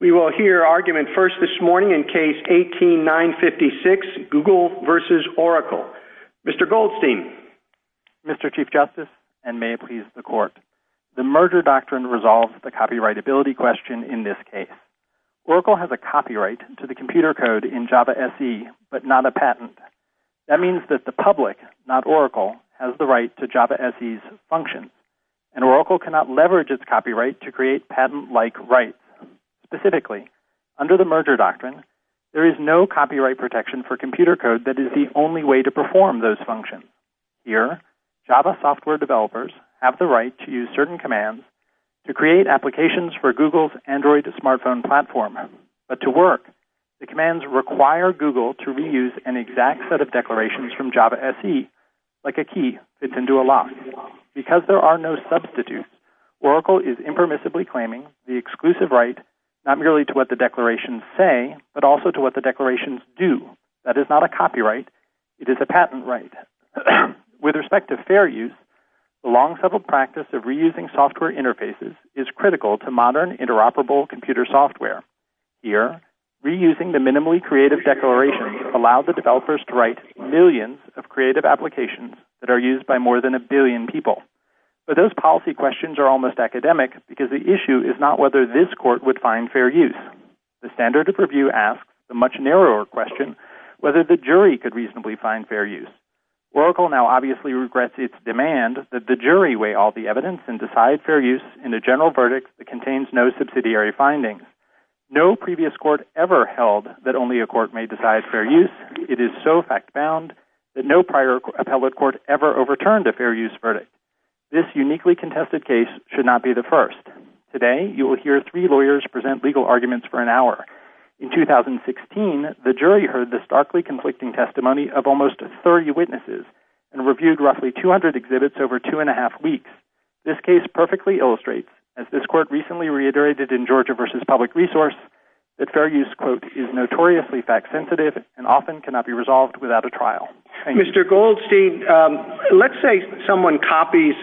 We will hear argument first this morning in Case 18-956, Google v. Oracle. Mr. Goldstein. Mr. Chief Justice, and may it please the Court, the merger doctrine resolves the copyrightability question in this case. Oracle has a copyright to the computer code in Java SE, but not a patent. That means that the public, not Oracle, has the right to Java SE's functions. And Oracle cannot leverage its copyright to create patent-like rights. Specifically, under the merger doctrine, there is no copyright protection for computer code that is the only way to perform those functions. Here, Java software developers have the right to use certain commands to create applications for Google's Android smartphone platform. But to work, the commands require Google to reuse an exact set of declarations from Java SE, like a key fits into a lock. Because there are no substitutes, Oracle is impermissibly claiming the exclusive right not merely to what the declarations say, but also to what the declarations do. That is not a copyright, it is a patent right. With respect to fair use, the long-settled practice of reusing software interfaces is critical to modern interoperable computer software. Here, reusing the minimally creative declarations allow the developers to write millions of creative applications that are used by more than a billion people. But those policy questions are almost academic, because the issue is not whether this court would find fair use. The standard of review asks a much narrower question, whether the jury could reasonably find fair use. Oracle now obviously regrets its demand that the jury weigh all the evidence and decide fair use in a general verdict that contains no subsidiary findings. No previous court ever held that only a court may decide fair use. It is so fact-bound that no prior appellate court ever overturned a fair use verdict. This uniquely contested case should not be the first. Today, you will hear three lawyers present legal arguments for an hour. In 2016, the jury heard the starkly conflicting testimony of almost 30 witnesses and reviewed roughly 200 exhibits over two and a half weeks. This case perfectly illustrates, as this court recently reiterated in Georgia versus Public Resource, that fair use, quote, is notoriously fact-sensitive and often cannot be resolved without a trial. Mr. Goldstein, let's say someone copies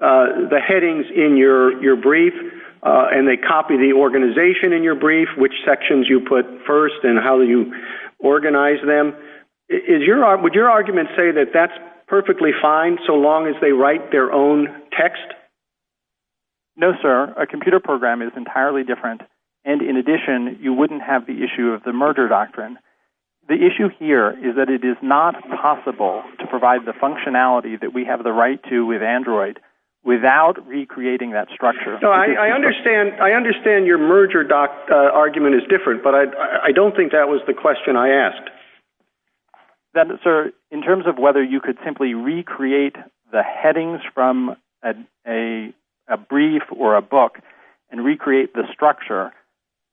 the headings in your brief, and they copy the organization in your brief, which sections you put first, and how you organize them. Would your argument say that that's perfectly fine so long as they write their own text? No, sir. A computer program is entirely different. And in addition, you wouldn't have the issue of the merger doctrine. The issue here is that it is not possible to provide the functionality that we have the right to with Android without recreating that structure. No, I understand your merger argument is different, but I don't think that was the question I asked. Sir, in terms of whether you could simply recreate the headings from a brief or a book and recreate the structure,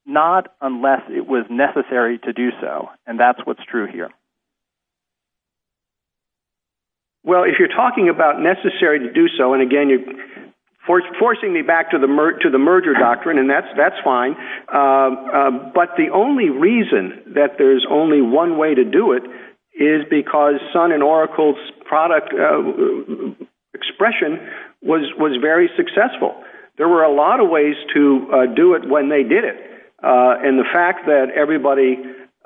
not unless it was necessary to do so, and that's what's true here. Well, if you're talking about necessary to do so, and again, you're forcing me back to the merger doctrine, and that's fine, but the only reason that there's only one way to do it is because Sun and Oracle's product expression was very successful. There were a lot of ways to do it when they did it. And the fact that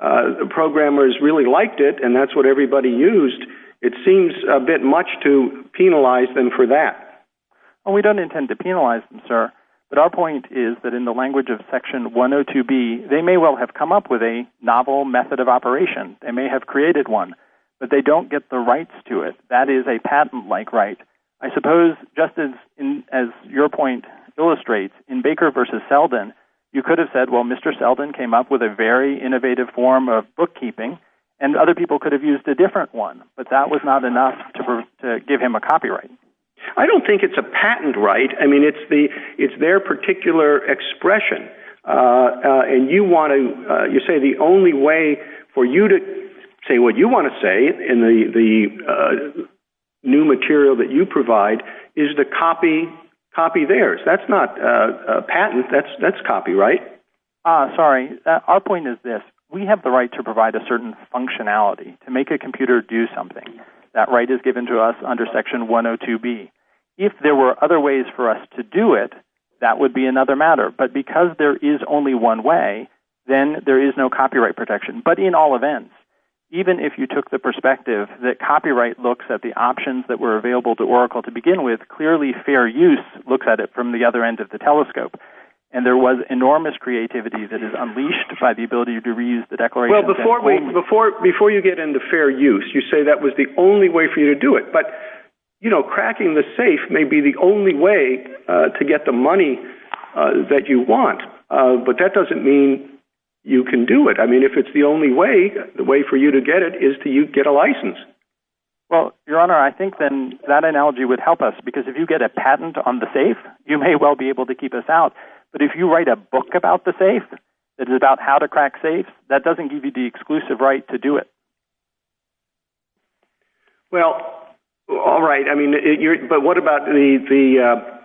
the programmers really liked it and that's what everybody used, it seems a bit much to penalize them for that. We don't intend to penalize them, sir, but our point is that in the language of Section 102B, they may well have come up with a novel method of operation. They may have created one, but they don't get the rights to it. That is a patent-like right. I suppose, just as your point illustrates, in Baker v. Selden, you could have said, well, Mr. Selden came up with a very innovative form of bookkeeping, and other people could have used a different one, but that was not enough to give him a copyright. I don't think it's a patent right. I mean, it's their particular expression, and you say the only way for you to say what you want to say in the new material that you provide is to copy theirs. That's not a patent. That's copyright. Sorry. Our point is this. We have the right to provide a certain functionality, to make a computer do something. That right is given to us under Section 102B. If there were other ways for us to do it, that would be another matter. But because there is only one way, then there is no copyright protection. But in all events, even if you took the perspective that copyright looks at the options that were available to Oracle to begin with, clearly Fair Use looks at it from the other end of the telescope. And there was enormous creativity that is unleashed by the ability to reuse the Declaration of Independence. Before you get into Fair Use, you say that was the only way for you to do it. But cracking the safe may be the only way to get the money that you want, but that doesn't mean you can do it. If it's the only way, the way for you to get it is to get a license. Your Honor, I think that analogy would help us. Because if you get a patent on the safe, you may well be able to keep us out. But if you write a book about the safe, about how to crack safes, that doesn't give you the exclusive right to do it. What about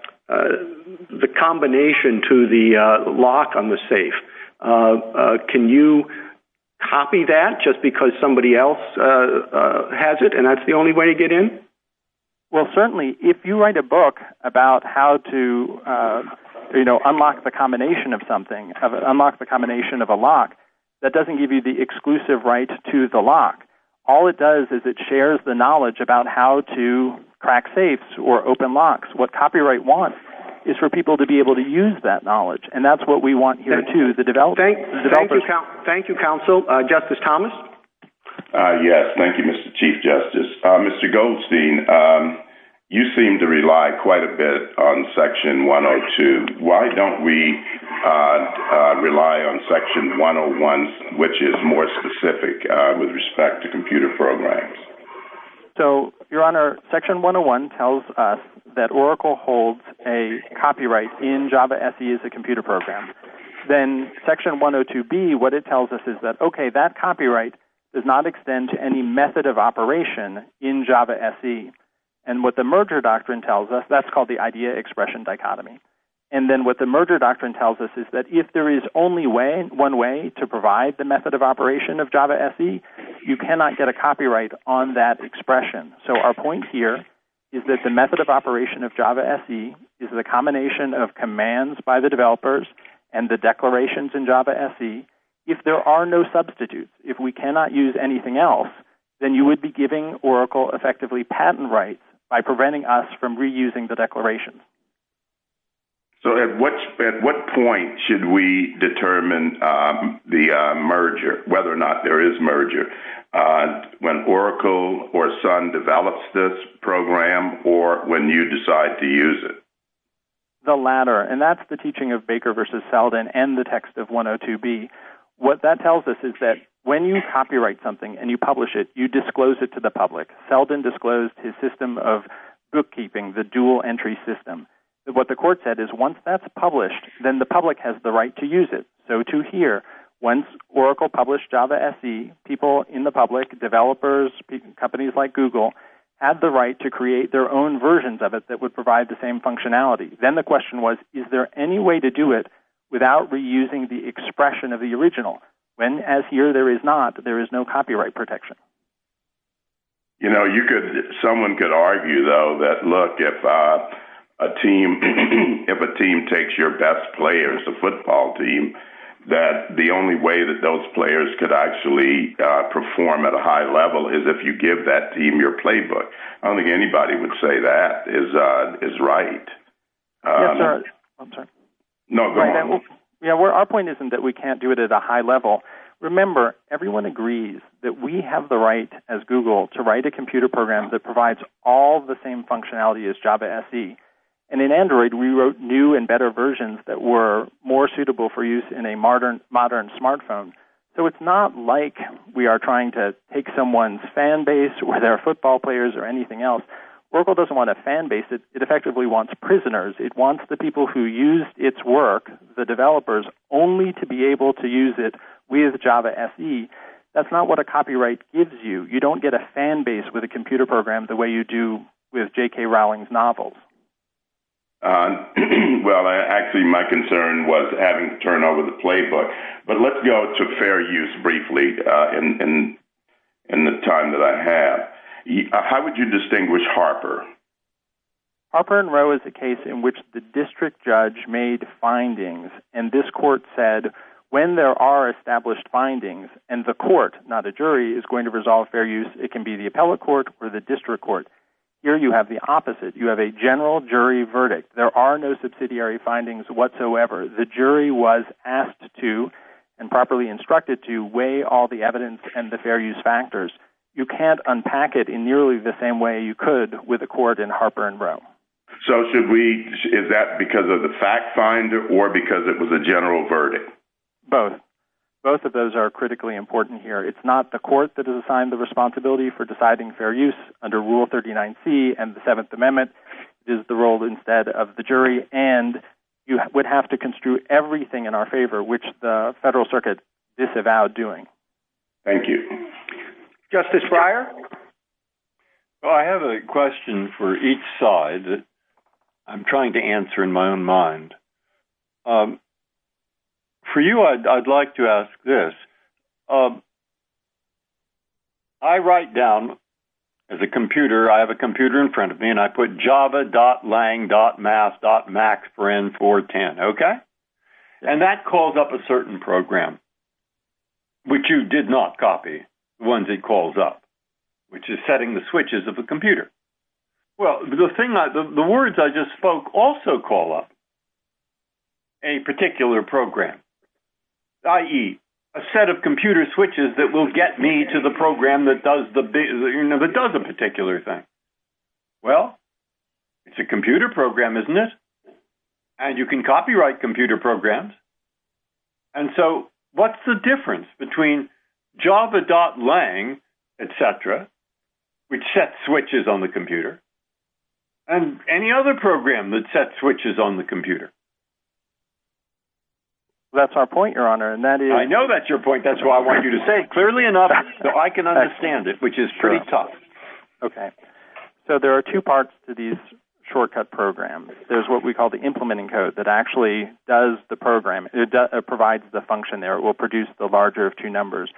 the combination to the lock on the safe? Can you copy that just because somebody else has it and that's the only way to get in? Well certainly, if you write a book about how to unlock the combination of something, unlock the combination of a lock, that doesn't give you the exclusive right to the lock. All it does is it shares the knowledge about how to crack safes or open locks. What copyright wants is for people to be able to use that knowledge. And that's what we want here too. Thank you, counsel. Justice Thomas? Yes, thank you, Mr. Chief Justice. Mr. Goldstein, you seem to rely quite a bit on Section 102. Why don't we rely on Section 101, which is more specific with respect to computer programs? Your Honor, Section 101 tells us that Oracle holds a copyright in Java SE as a computer program. Then Section 102B, what it tells us is that, okay, that copyright does not extend to any method of operation in Java SE. And what the merger doctrine tells us, that's called the idea-expression dichotomy. And then what the merger doctrine tells us is that if there is only one way to provide the method of operation of Java SE, you cannot get a copyright on that expression. So our point here is that the method of operation of Java SE is a combination of commands by the developers and the declarations in Java SE. If there are no substitutes, if we cannot use anything else, then you would be giving Oracle effectively patent rights by preventing us from reusing the declarations. So at what point should we determine the merger, whether or not there is merger when Oracle or Sun develops this program or when you decide to use it? The latter. And that's the teaching of Baker v. Seldin and the text of 102B. What that tells us is that when you copyright something and you publish it, you disclose it to the public. Seldin disclosed his system of bookkeeping, the dual entry system. What the court said is once that's published, then the public has the right to use it. So to here, once Oracle published Java SE, people in the public, developers, companies like Google, have the right to create their own versions of it that would provide the same functionality. Then the question was, is there any way to do it without reusing the expression of the original? When as here there is not, there is no copyright protection. You know, someone could argue, though, that look, if a team takes your best players, the football team, that the only way that those players could actually perform at a high level is if you give that team your playbook. I don't think anybody would say that is right. I'm sorry. No, go on. Our point isn't that we can't do it at a high level. Remember, everyone agrees that we have the right as Google to write a computer program that provides all the same functionality as Java SE. And in Android, we wrote new and better versions that were more suitable for use in a modern smartphone. So it's not like we are trying to take someone's fan base or their football players or anything else. Oracle doesn't want a fan base. It effectively wants prisoners. It wants the people who use its work, the developers, only to be able to use it with Java SE. That's not what a copyright gives you. You don't get a fan base with a computer program the way you do with J.K. Rowling's novels. Well, actually, my concern was having to turn over the playbook. But let's go to fair use briefly. In the time that I have, how would you distinguish Harper? Harper and Row is a case in which the district judge made findings, and this court said, when there are established findings, and the court, not a jury, is going to resolve fair use, it can be the appellate court or the district court. Here you have the opposite. You have a general jury verdict. There are no subsidiary findings whatsoever. The jury was asked to and properly instructed to weigh all the evidence and the fair use factors. You can't unpack it in nearly the same way you could with a court in Harper and Row. So is that because of the fact finder or because it was a general verdict? Both. Both of those are critically important here. It's not the court that is assigned the responsibility for deciding fair use under Rule 39C and the Seventh Amendment. It is the role instead of the jury. And you would have to construe everything in our favor, which the federal circuit disavowed doing. Thank you. Justice Breyer? Well, I have a question for each side that I'm trying to answer in my own mind. For you, I'd like to ask this. I write down, as a computer, I have a computer in front of me, and I put java.lang.math.max for N410, okay? And that calls up a certain program, which you did not copy, the ones it calls up. Which is setting the switches of the computer. Well, the words I just spoke also call up a particular program, i.e., a set of computer switches that will get me to the program that does a particular thing. Well, it's a computer program, isn't it? And you can copyright computer programs. And so what's the difference between java.lang, etc., which sets switches on the computer, and any other program that sets switches on the computer? That's our point, Your Honor, and that is... I know that's your point. That's what I want you to say, clearly enough, so I can understand it, which is pretty tough. Okay. So there are two parts to these shortcut programs. There's what we call the implementing code that actually does the program. It provides the function there. It will produce the larger of two numbers.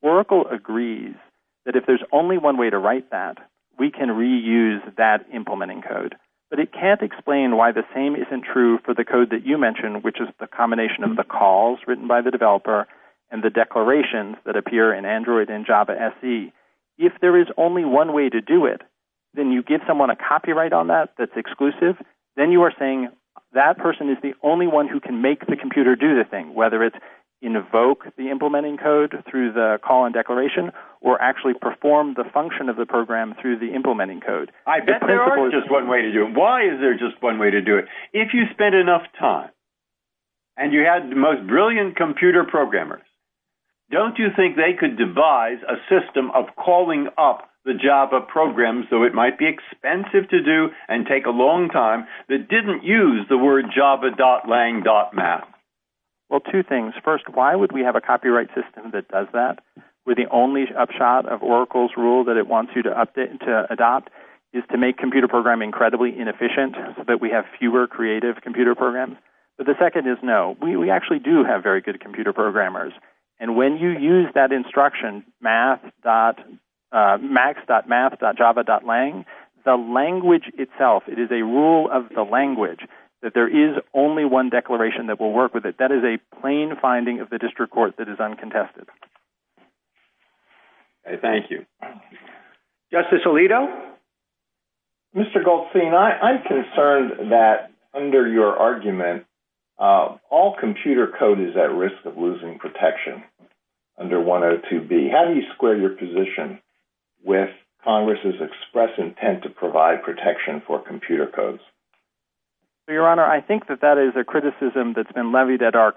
Oracle agrees that if there's only one way to write that, we can reuse that implementing code. But it can't explain why the same isn't true for the code that you mentioned, which is the combination of the calls written by the developer and the declarations that appear in Android and Java SE. If there is only one way to do it, then you give someone a copyright on that that's exclusive. Then you are saying that person is the only one who can make the computer do the thing, whether it's invoke the implementing code through the call and declaration or actually perform the function of the program through the implementing code. I bet there is just one way to do it. Why is there just one way to do it? If you spent enough time and you had the most brilliant computer programmers, don't you think they could devise a system of calling up the Java program so it might be expensive to do and take a long time that didn't use the word java.lang.mat? Well, two things. First, why would we have a copyright system that does that with the only upshot of Oracle's rule that it wants you to adopt is to make computer programming incredibly inefficient so that we have fewer creative computer programs? The second is no. We actually do have very good computer programmers and when you use that instruction max.mat.java.lang the language itself it is a rule of the language that there is only one declaration that will work with it. That is a plain finding of the district court that is uncontested. Thank you. Justice Alito? Mr. Goldstein, I'm concerned that under your argument all computer code is at risk of losing protection under 102B. How do you square your position with Congress' express intent to provide protection for computer codes? Your Honor, I think that is a criticism that's been levied at our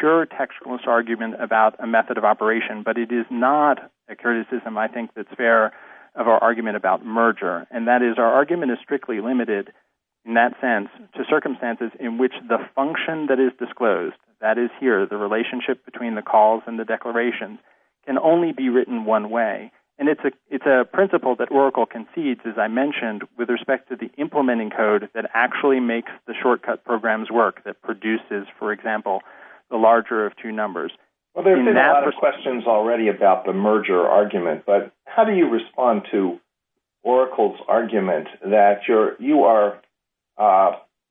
pure textualist argument about a method of operation but it is not a criticism I think that's fair of our argument about merger. Our argument is strictly limited in that sense to circumstances in which the function that is disclosed that is here the relationship between the calls and the declarations can only be written one way. It's a principle that Oracle concedes as I mentioned with respect to the implementing code that actually makes the shortcut programs work that produces, for example the larger of two numbers. There have been a lot of questions already about the merger argument but how do you respond to Oracle's argument that you are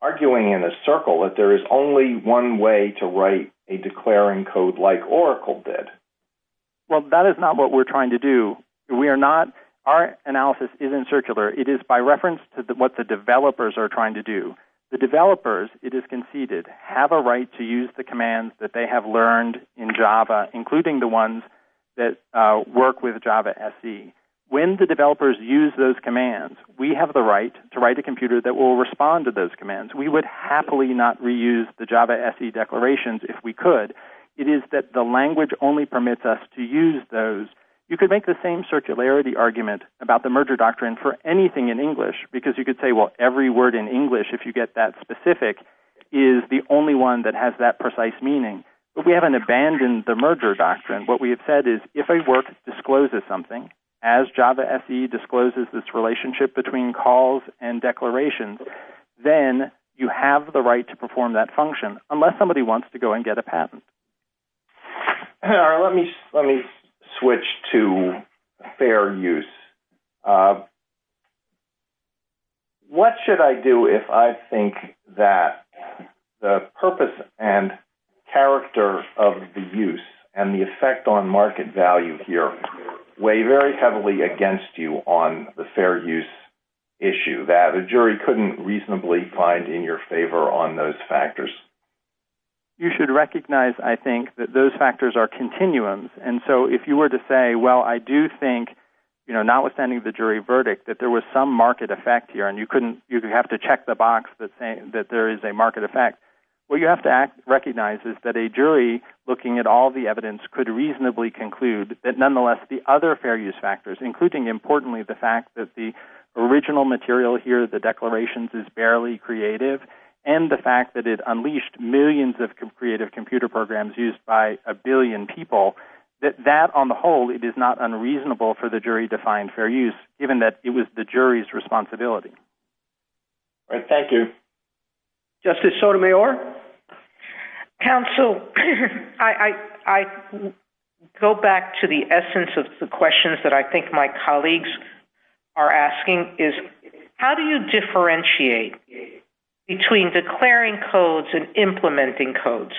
arguing in a circle that there is only one way to write a declaring code like Oracle did? That is not what we are trying to do. We are not Our analysis isn't circular. It is by reference to what the developers are trying to do. The developers it is conceded have a right to use the commands that they have learned in Java including the ones that work with Java SE. When the developers use those commands we have the right to write a computer that will respond to those commands. We would happily not reuse the Java SE declarations if we could. It is that the language only permits us to use those You could make the same circularity argument about the merger doctrine for anything in English because you could say every word in English if you get that specific is the only one that has that precise meaning. We haven't abandoned the merger doctrine. What we have said is if a work discloses something as Java SE discloses this relationship between calls and declarations then you have the right to perform that function unless somebody wants to go and get a patent. Let me switch to fair use. What should I do if I think that the purpose and character of the use and the effect on market value here weigh very heavily against you on the fair use issue that a jury couldn't reasonably find in your favor on those factors? You should recognize I think that those factors are continuums and so if you were to say well I do think notwithstanding the jury verdict that there was some market effect here and you have to check the box that there is a market effect what you have to recognize is that a jury looking at all the evidence could reasonably conclude that nonetheless the other fair use factors including importantly the fact that the original material here the declarations is barely creative and the fact that it unleashed millions of creative computer programs used by a billion people that on the whole it is not unreasonable for the jury to find fair use given that it was the jury's responsibility. Thank you. Justice Sotomayor? Counsel I go back to the essence of the questions that I think my colleagues are asking is how do you differentiate between declaring codes and implementing codes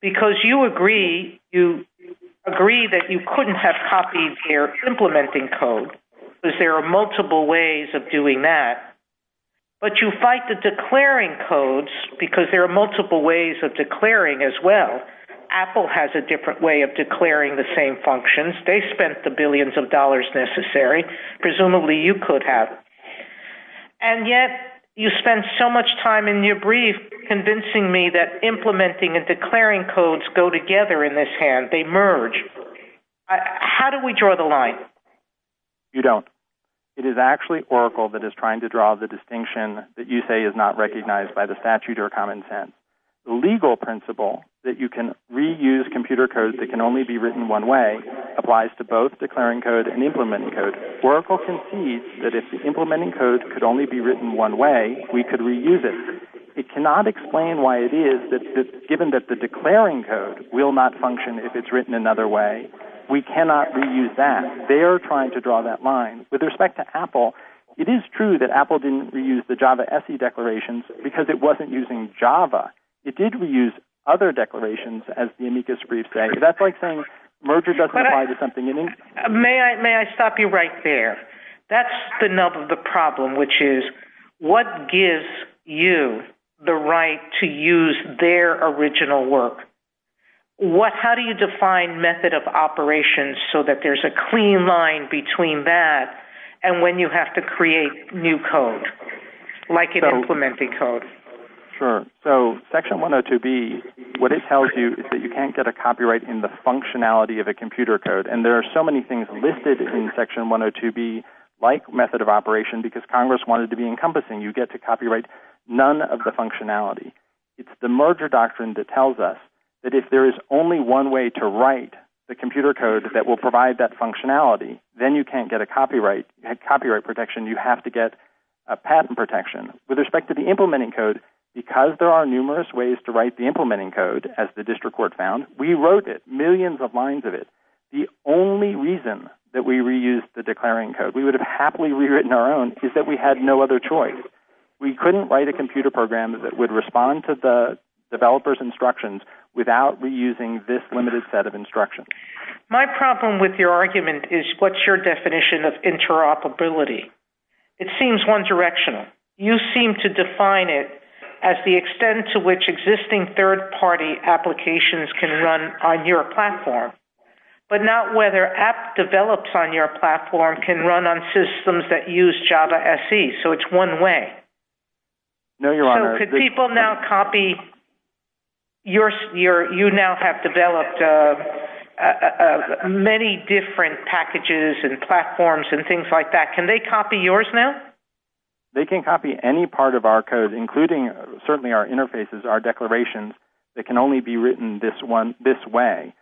because you agree you agree that you couldn't have copied your implementing code because there are multiple ways of doing that but you fight the declaring codes because there are multiple ways of declaring as well. Apple has a different way of declaring the same functions they spent the billions of dollars necessary presumably you could have and yet you spend so much time in your brief convincing me that implementing and declaring codes go together in this hand they merge how do we draw the line? You don't it is actually Oracle that is trying to draw the distinction that you say is not recognized by the statute or common sense the legal principle that you can reuse computer codes that can only be written one way applies to both declaring codes and implementing codes Oracle concedes that if the implementing code could only be written one way we could reuse it it cannot explain why it is that given that the declaring code will not function if it is written another way we cannot reuse that they are trying to draw that line with respect to Apple it is true that Apple didn't reuse the Java SE declaration because it wasn't using Java it did reuse other declarations as the amicus brief that is why merger doesn't apply to something unique may I stop there that's the problem which is what gives you the right to use their original work what how do you define method of operations so that there is a clean line between that and when you have to create new code like implementing code sure so section 102B what it tells you is that you can't get a copyright in the functionality of a computer code and there are so many things listed in section 102B like method of operation because congress wanted to be encompassing you get to copyright none of the functionality it's the merger doctrine that tells us that if there is only one way to write the computer code that will provide that functionality then you can't get a copyright protection you have to get a patent protection with respect to the implementing code because there are numerous ways to write the implementing code as the district court found we wrote it millions of lines of it the only reason we reused the declaring code we couldn't write a computer program without reusing this limited set of instructions my problem with your argument is what is your definition of interoperability it seems one direction you seem to define it as the extent to which third party applications can run on your platform but not whether app develops on your platform can run on systems that use Java SE so it's one way so can people now copy you now have developed many different packages and platforms and things like that can they copy yours now they can copy any part of our code including certainly our interfaces our declarations that can only be written this way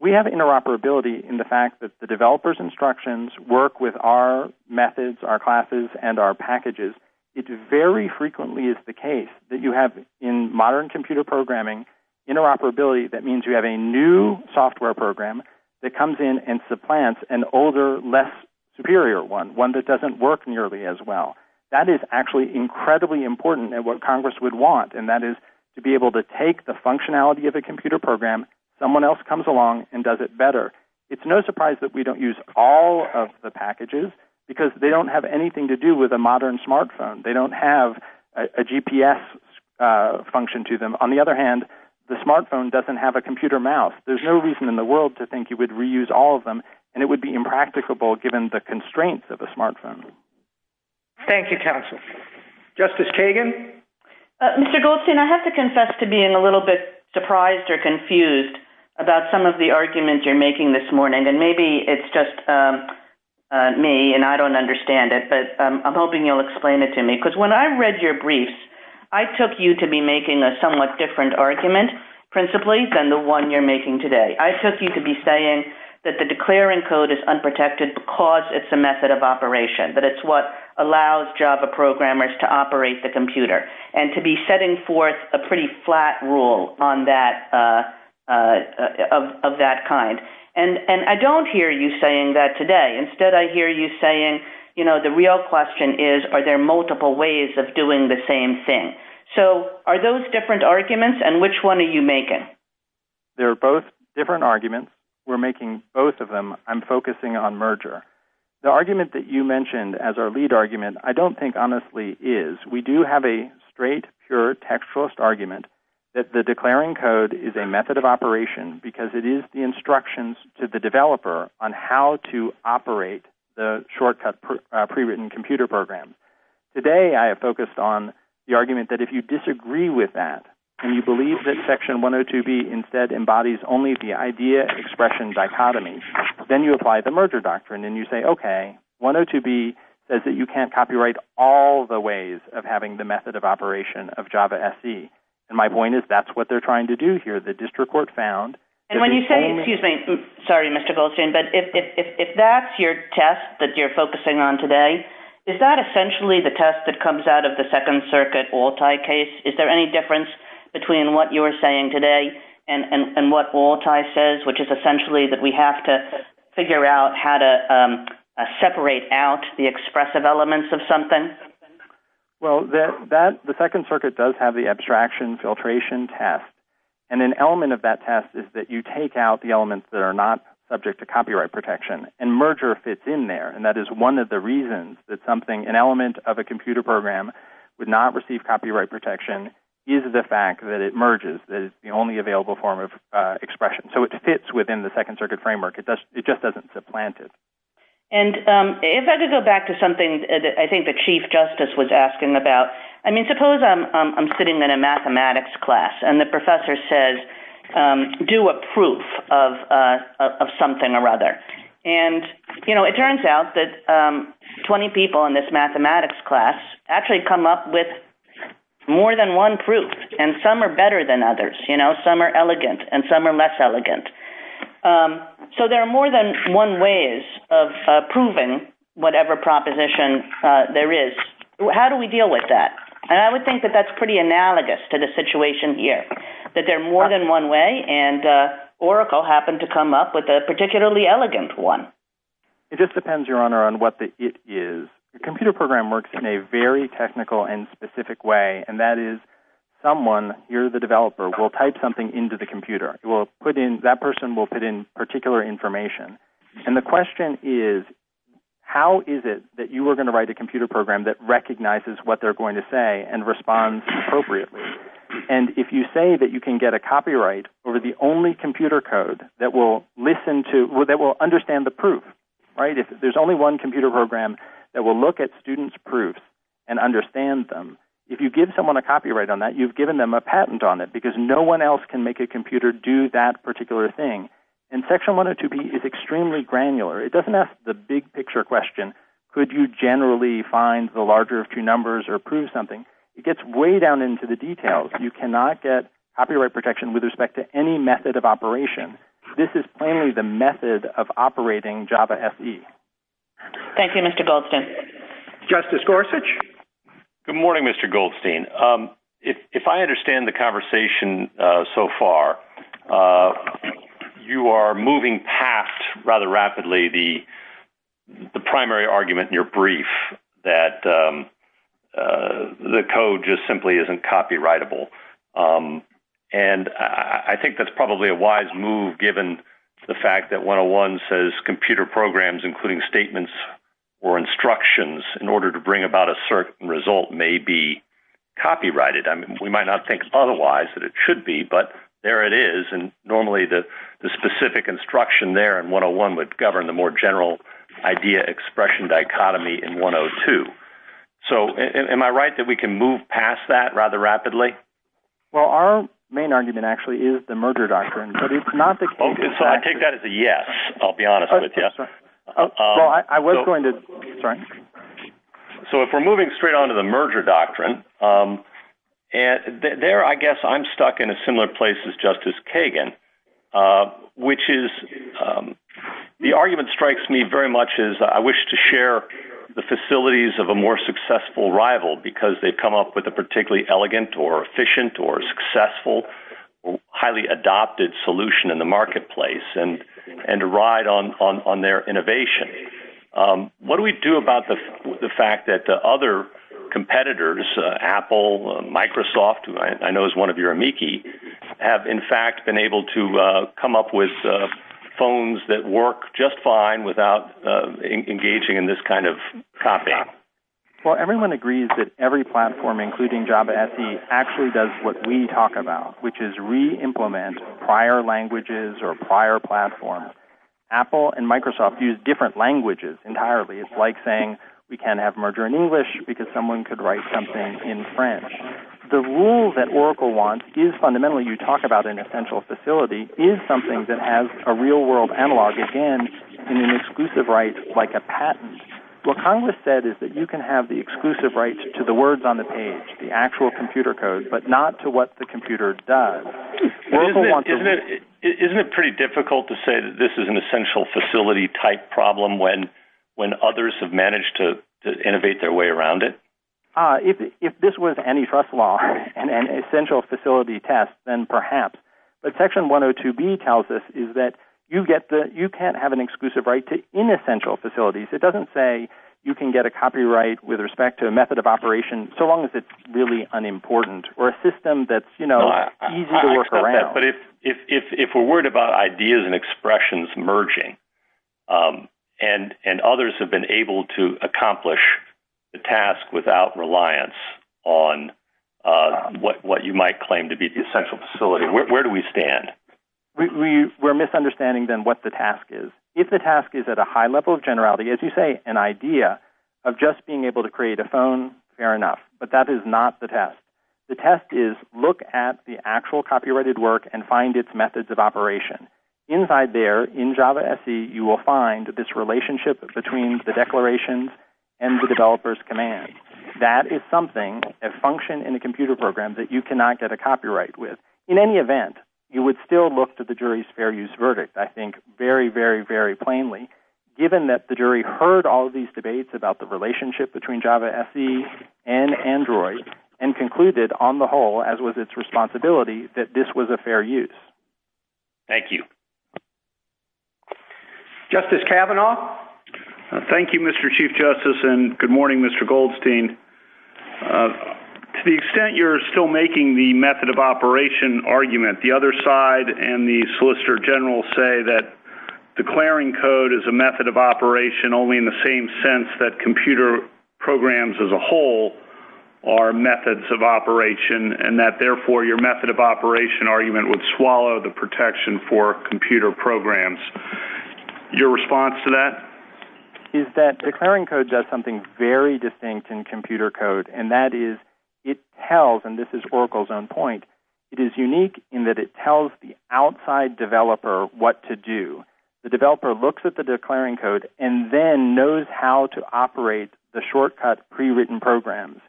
we have interoperability in the fact that the developers instructions work with our methods our classes and our packages it very frequently is the case that you have in modern computer programming interoperability that means you have a new software program that comes in and supplants an older less superior one one that doesn't work nearly as well that is actually incredibly important and what congress would want and that is to be able to take the computer mouse function to them on the other hand the smart phone doesn't have the computer mouse and it would be impracticable given the constraints of the smart phone justice Kagan I have to confess to being surprised or confused about some of the arguments you're making this morning and maybe it's just me and I don't understand it but I'm hoping you'll explain it to me because when I read your briefs I took you to be making a somewhat different argument principally than the one you're making today I took you to be saying that the declaring code is unprotected because it's a method of operation that it's what allows Java programmers to operate the computer and to be setting forth a pretty flat rule of that kind and I don't hear you saying that today instead I hear you saying the real question is are there multiple ways of doing the same thing so are those different arguments and which one are you making? They're both different arguments we're making both of them I'm focusing on merger the argument that you mentioned as our lead argument I don't think honestly is we do have a straight pure textualist argument that the declaring code is a method of operation because it is the instructions to the system that's the argument that if you disagree with that and you believe that section 102B embodies only the idea expression dichotomy then you apply the merger doctrine and you say you can't copyright all the ways of having the method of operation and my point is that's what they're trying to do here. When you say, if that's your test that you're focusing on today, is that essentially the test that comes out of the second circuit case, is there any difference between what you are saying today and what all Ty says, which is essentially that we have to figure out how to separate out the expressive elements of something? The second circuit does have the abstraction test and an element of that test is that you take out the elements that are not subject to copyright protection and merger fits in there. That is one of the reasons that an element of a computer program would not receive copyright protection is the fact that it merges. It fits within the second circuit framework. It doesn't supplant it. If I could go back to something that the chief justice was asking about, suppose I'm sitting in a mathematics class and the professor says, do a proof of something or other. It turns out that 20 people in this mathematics class actually come up with more than one proof. Some are better than others. Some are elegant and some are less elegant. There are more than one ways of proving whatever proposition there is. How do we deal with that? I would think that that's pretty analogous to the situation here. They're more than one way and Oracle happened to come up with a particularly elegant one. It depends on what the it is. The computer program works in a very technical and specific way and that is someone, you're the developer, will type something into the computer. That person will put in particular information. The question is how is it that you're going to write a computer program that recognizes what they're going to say and responds appropriately. If you say you can get a copyright over the only computer code that will understand the proof, if there's only one computer program that will look at students' proofs and understand them, if you give someone a copyright on that, you've given them a patent on it because no one else can make a computer do that particular thing. Section 102B is not a copyright protection with respect to any method of operation. This is plainly the method of operating Java SE. Thank you, Mr. Goldstein. Justice Gorsuch? Good morning, Mr. Goldstein. If I understand the conversation so far, you are moving past rather rapidly the primary argument in your brief that the computer should be copyrighted. I think that's probably a wise move given the fact that 101 says computer programs including statements or instructions in order to bring about a certain result may be copyrighted. We might not think otherwise that it should be, but there it is. Normally the specific instruction would govern the more general idea expression dichotomy. Am I right that we can move past that rather rapidly? Our main argument is the merger doctrine. I take that as a yes. I'll be honest with you. If we are moving straight on to the merger doctrine, there I guess I'm stuck in a similar place as Justice Kagan. The argument strikes me very much as I wish to share the facilities of a more successful rival because they come up with a particularly elegant or efficient or successful highly adopted solution in the marketplace and a ride on their innovation. What do we do about the fact that other competitors, Apple, Microsoft, have in fact been able to come up with phones that work just fine without engaging in this kind of copying? Everyone agrees that every platform does what we talk about, which is reimplement prior languages or prior platforms. Apple and Microsoft use different languages entirely. It's like saying we can't have merger in English because someone could write something in French. The rule that Oracle wants is something that has a real world analog in an exclusive right like a patent. What Congress said is that you can have the exclusive rights to the words on the page, the actual text, the text, the text, the text. If this was any trust law and an essential facility test, then perhaps. Section 102B tells us you can't have an exclusive right to inessential facilities. It doesn't say you can get a copyright with respect to a word. And others have been able to accomplish the task without reliance on what you might claim to be the essential facility. Where do we stand? We're misunderstanding what the task is. If the task is at a high level of generality, as you say, an idea of just being able to create a phone, fair enough. But that is not the test. The test is look at the actual copyrighted work and find its methods of operation. Inside there you will find this relationship between the declarations and the developer's command. That is something that you cannot get a copyright with. In any event, you would still look to the jury's verdict. Given that the jury heard the relationship between Java and Android and concluded that this was a fair use. Thank you. Justice Kavanaugh? Thank you, Mr. Chief Justice and good morning, Mr. Goldstein. To the other side and the solicitor general say that declaring code is a method of operation only in the same sense that computer programs as a whole are methods of operation and therefore your method of operation argument would swallow the protection for computer programs. Your response to that? Declaring code does something very distinct in computer code. It tells the outside developer what to do. The developer looks at the declaring code and then knows how to operate the shortcut prewritten programs.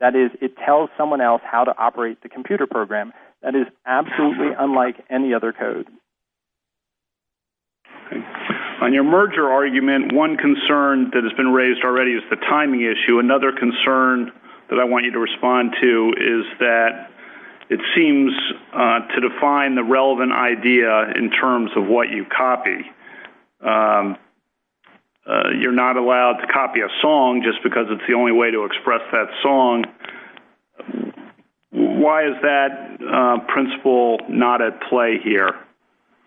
That is, it tells someone else how to operate the computer program. That is absolutely unlike any other code. On your merger argument, one concern that has come up that I want you to respond to is that it seems to define the relevant idea in terms of what you copy. You are not allowed to copy a song just because it is the only way to express that song. Why is that principle not at play here?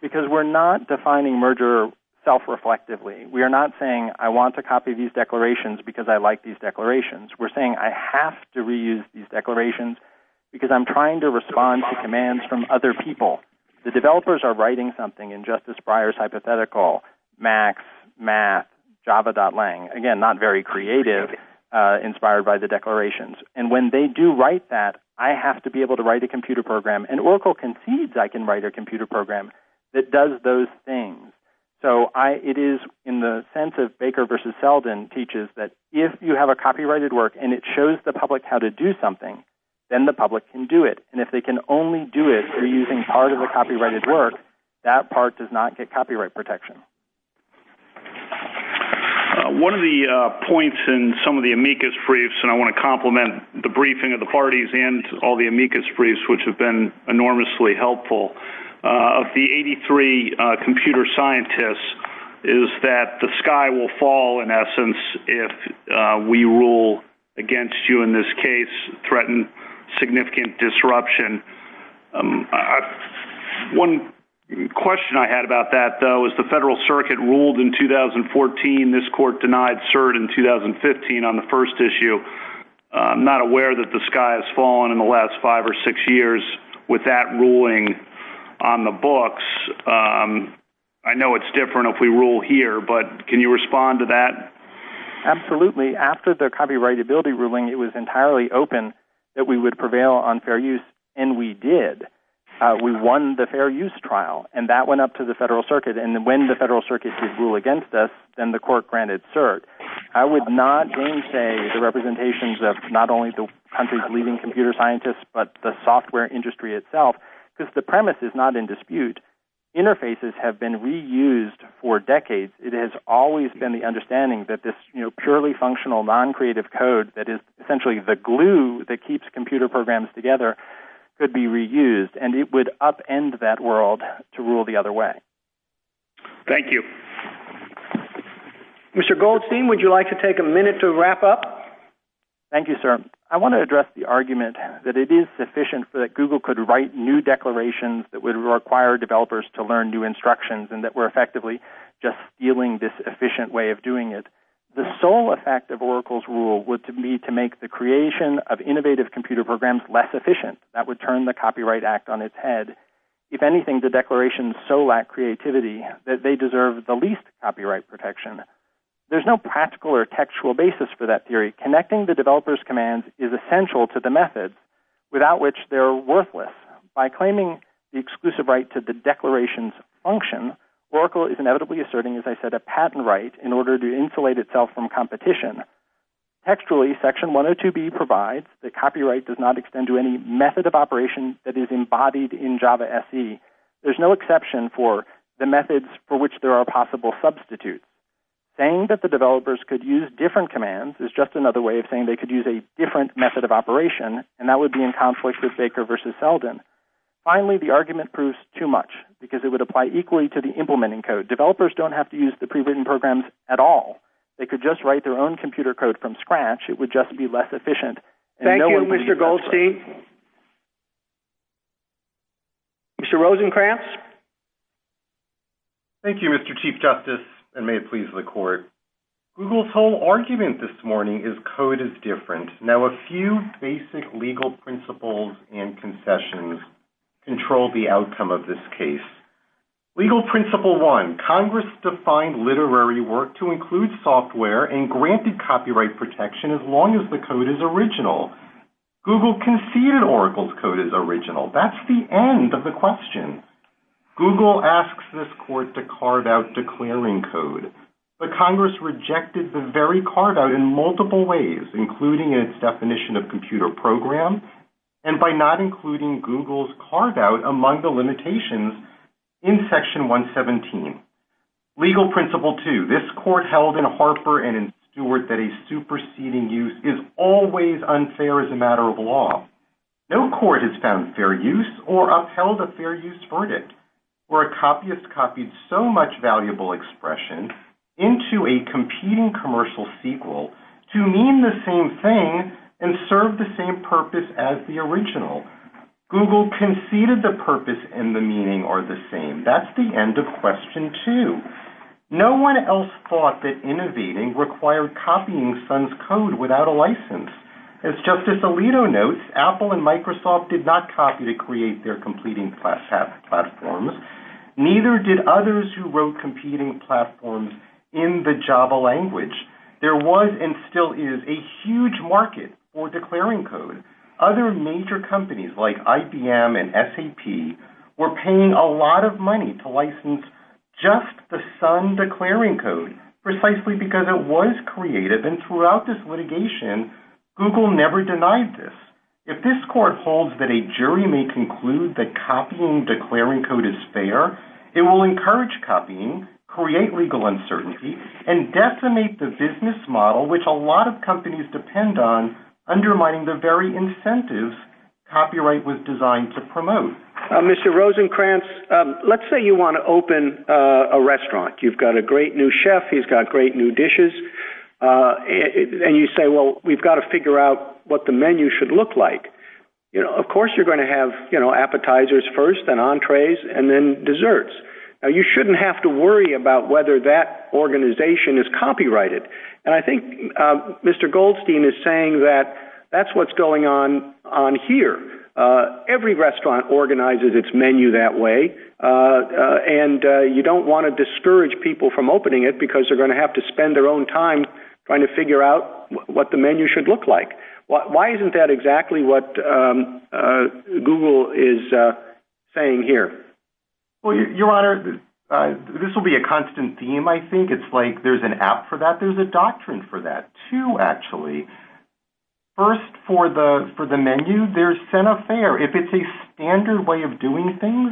Because we are not defining merger self reflectively. We are not saying I want to copy these declarations because I like these declarations. We are saying I have to reuse these declarations because I am trying to respond to commands from other people. The developers are writing something in just as prior hypothetical that I can write a computer program that does those things. It is in the sense of Baker versus Selden that if you have a copyrighted work and it shows the public how to do something, the public can do it. If they can only do it through using part of the copyrighted work, that part does not get copyright protection. One of the points in some of the amicus briefs, which have been enormously helpful, is that the sky will fall in essence if we rule against you in this case, threaten significant disruption. One question I had about that, though, is the federal circuit ruled in 2014, this court denied cert in 2015 on the first issue. I'm not aware that the sky has fallen in the last five or six years with that ruling on the books. I know it's different if we rule here, but can you respond to that? Absolutely. After the copyrightability ruling, it was entirely open that we would prevail on fair use, and we did. We won the fair use trial, and that went up to the federal circuit. When the federal circuit ruled against us, the court granted cert. I would not change the representations of the software industry itself. The premise is not in dispute. Interfaces have been reused for decades. It has always been the understanding that the glue that keeps us together has always been the that we can do. We can do things that we can do. We can do things that we can Thank you. Thank you, Mr. Chief Justice, and may it please the court. Google's whole argument this morning is code is different. Now, a few basic legal principles and concessions control the outcome of this case. Legal principle one, Congress defined literary work to include the of computer program. Google asks this court to carve out declaring code. Congress rejected the very carve out in multiple ways, including the definition of computer program, and by not including Google's carve out definition of computer program. This court held that a superseding use is always unfair as a matter of law. No court has found fair use or upheld a fair use verdict. A copy is copied so much valuable expression into a competing commercial platform. not fair to Google and Microsoft to name the same thing and serve the same purpose as the original. Google conceded the purpose and meaning are the same. That's the end of question two. No one else thought that innovating required copying code without a license. Apple and Microsoft did not copy to create their platforms. Neither did others who wrote competing platforms in the Java language. There was and still is a huge market for declaring code. Other major companies like IBM and SAP were paying a lot of money to license just the same. Google never denied this. If this court holds that a jury may conclude that copying declaring code is fair, it will encourage copying, create legal uncertainty and decimate the business model which a lot of companies depend on. It will undermine the incentive copyright was designed to promote. Mr. Rosenkranz, let's say you want to open a restaurant. You have a great new chef and dishes and you say we have to figure out what the menu should look like. Of course you will have appetizers first and that's what is going on here. Every restaurant organizes its menu that way and you don't want to discourage people from opening it because they will have to spend their own time trying to figure out what the menu should look like. Why isn't that exactly what Google is saying here? This will be a example. If you look at the menu, if it's a standard way of doing things,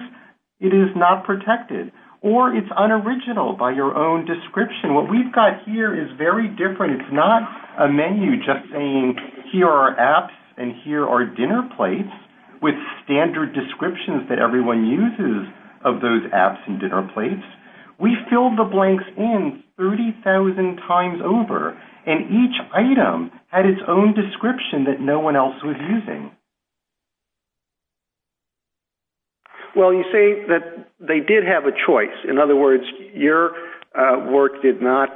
it is not protected. Or it's unoriginal by your own description. What we've got here is very different. It's not a menu just saying here are apps and here are dinner plates with standard descriptions that everyone uses of those apps and dinner plates. We filled the blanks in 30,000 times over and each item had its own description that no one else was using. You say they did have a choice. In other words, your work did not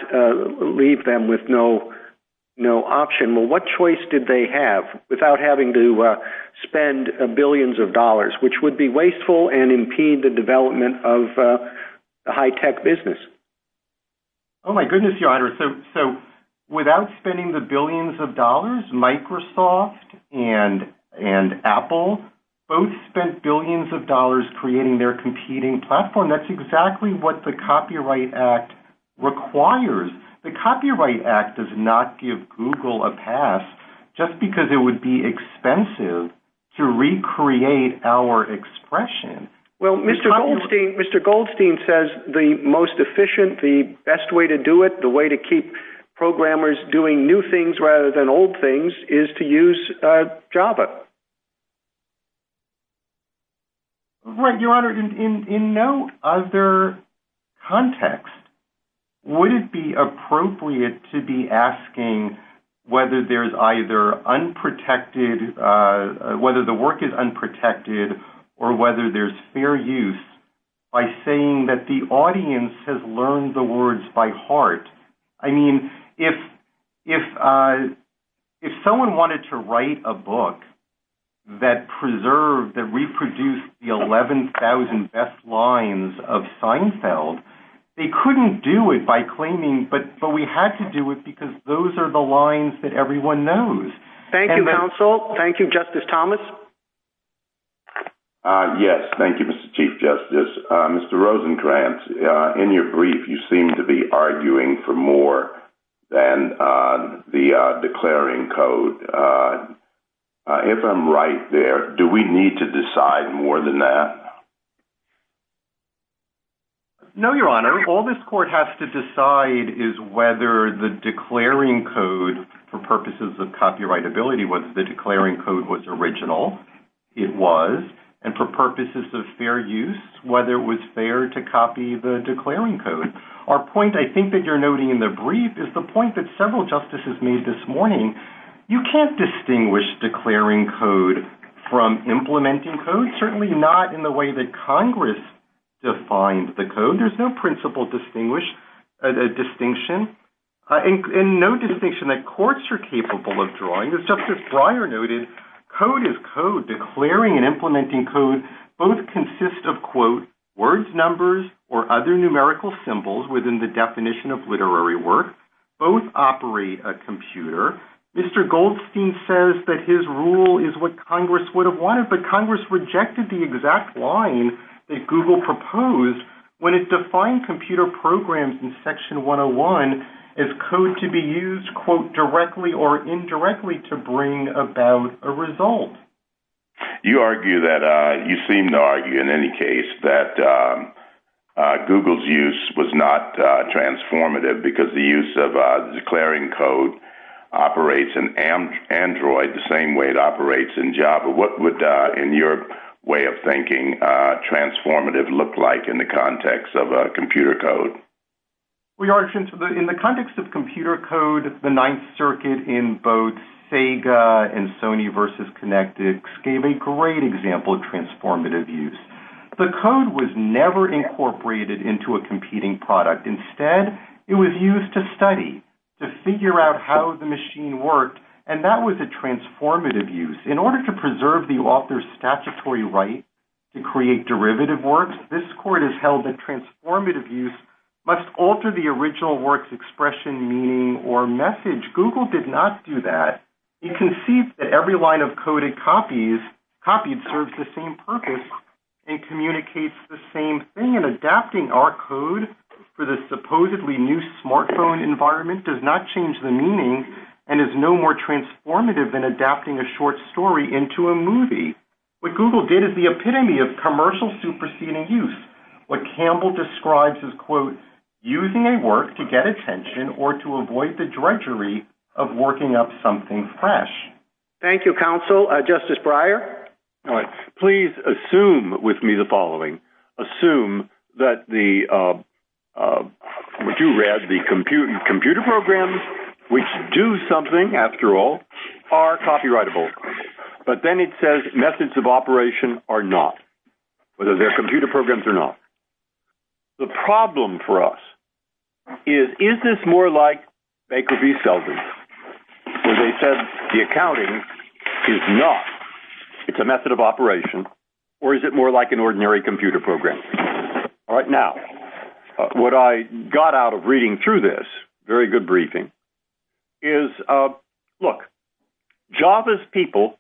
leave them with no option. What choice did they have without having to spend billions of dollars creating their competing platform? That's exactly what the Copyright Act requires. because it would be expensive to recreate our expression. The Copyright Act does not give Google a pass just because it would be expensive to recreate our expression. be expensive to create our expression. Mr. Goldstein says the best way to do it, the way to keep programmers doing new things rather than old things is to use Java. In no other context, would it be appropriate to be asking whether there's either fair use by saying that the audience has learned the words by heart? I mean, if someone wanted to write a book that preserved, that reproduced the 11,000 best lines of Seinfeld, they couldn't do it by claiming, but we had to do it because those are the lines that everyone knows. Thank you, counsel. Thank you, Justice Thomas. Yes, thank you, Mr. Chief Justice. Mr. Rosenkranz, in your brief, you seem to be arguing for more than the declaring code. If I'm right there, do we need to decide more than that? No, your honor. All this is based on the fact that the declaring code was original, it was, and for purposes of fair use, whether it was fair to copy the declaring code. Our point is that several justices made this morning, you can't distinguish declaring code from implementing code, but certainly not in the way that Congress defined the code. There's no principle distinction, and no distinction that courts are capable of drawing. Justice Breyer noted, code is code, declaring and implementing code both consist of words, numbers, or other numerical symbols within the definition of code. This is the exact line that Google proposed when it defined computer programs in section 101 as code to be used directly or indirectly to bring about a result. You argue that, you seem to argue in any case that Google's use was not transformative because the use of declaring code operates in Android the same way it operates in Java. What would in your way of thinking transformative look like in the context of computer code? In the context of computer code, the ninth circuit gave a great example of transformative use. The code was never used to show how the machine worked and that was a transformative use. In order to preserve the author's statutory right to create derivative works, this court held that transformative use must alter the original expression, meaning, or message. Google did not do that. It does not change the meaning and is no more transformative than adapting a short story into a movie. What Google did is the epitome of commercial superseding use. What Campbell describes is quote, using a work to get attention or to avoid the drudgery of working up something fresh. That's we're doing. Thank you, counsel. Justice Breyer? Please assume with me the following. Assume that the computer programs which do something after all are copyrightable. But then it says methods of operation are not, whether they are computer programs or not. The problem for us is is this more like Baker v. Selden where they said the accounting is not. It's a method of operation or is it more like an ordinary computer program. Now, what I got out of reading through this, very good briefing, is look, Java's people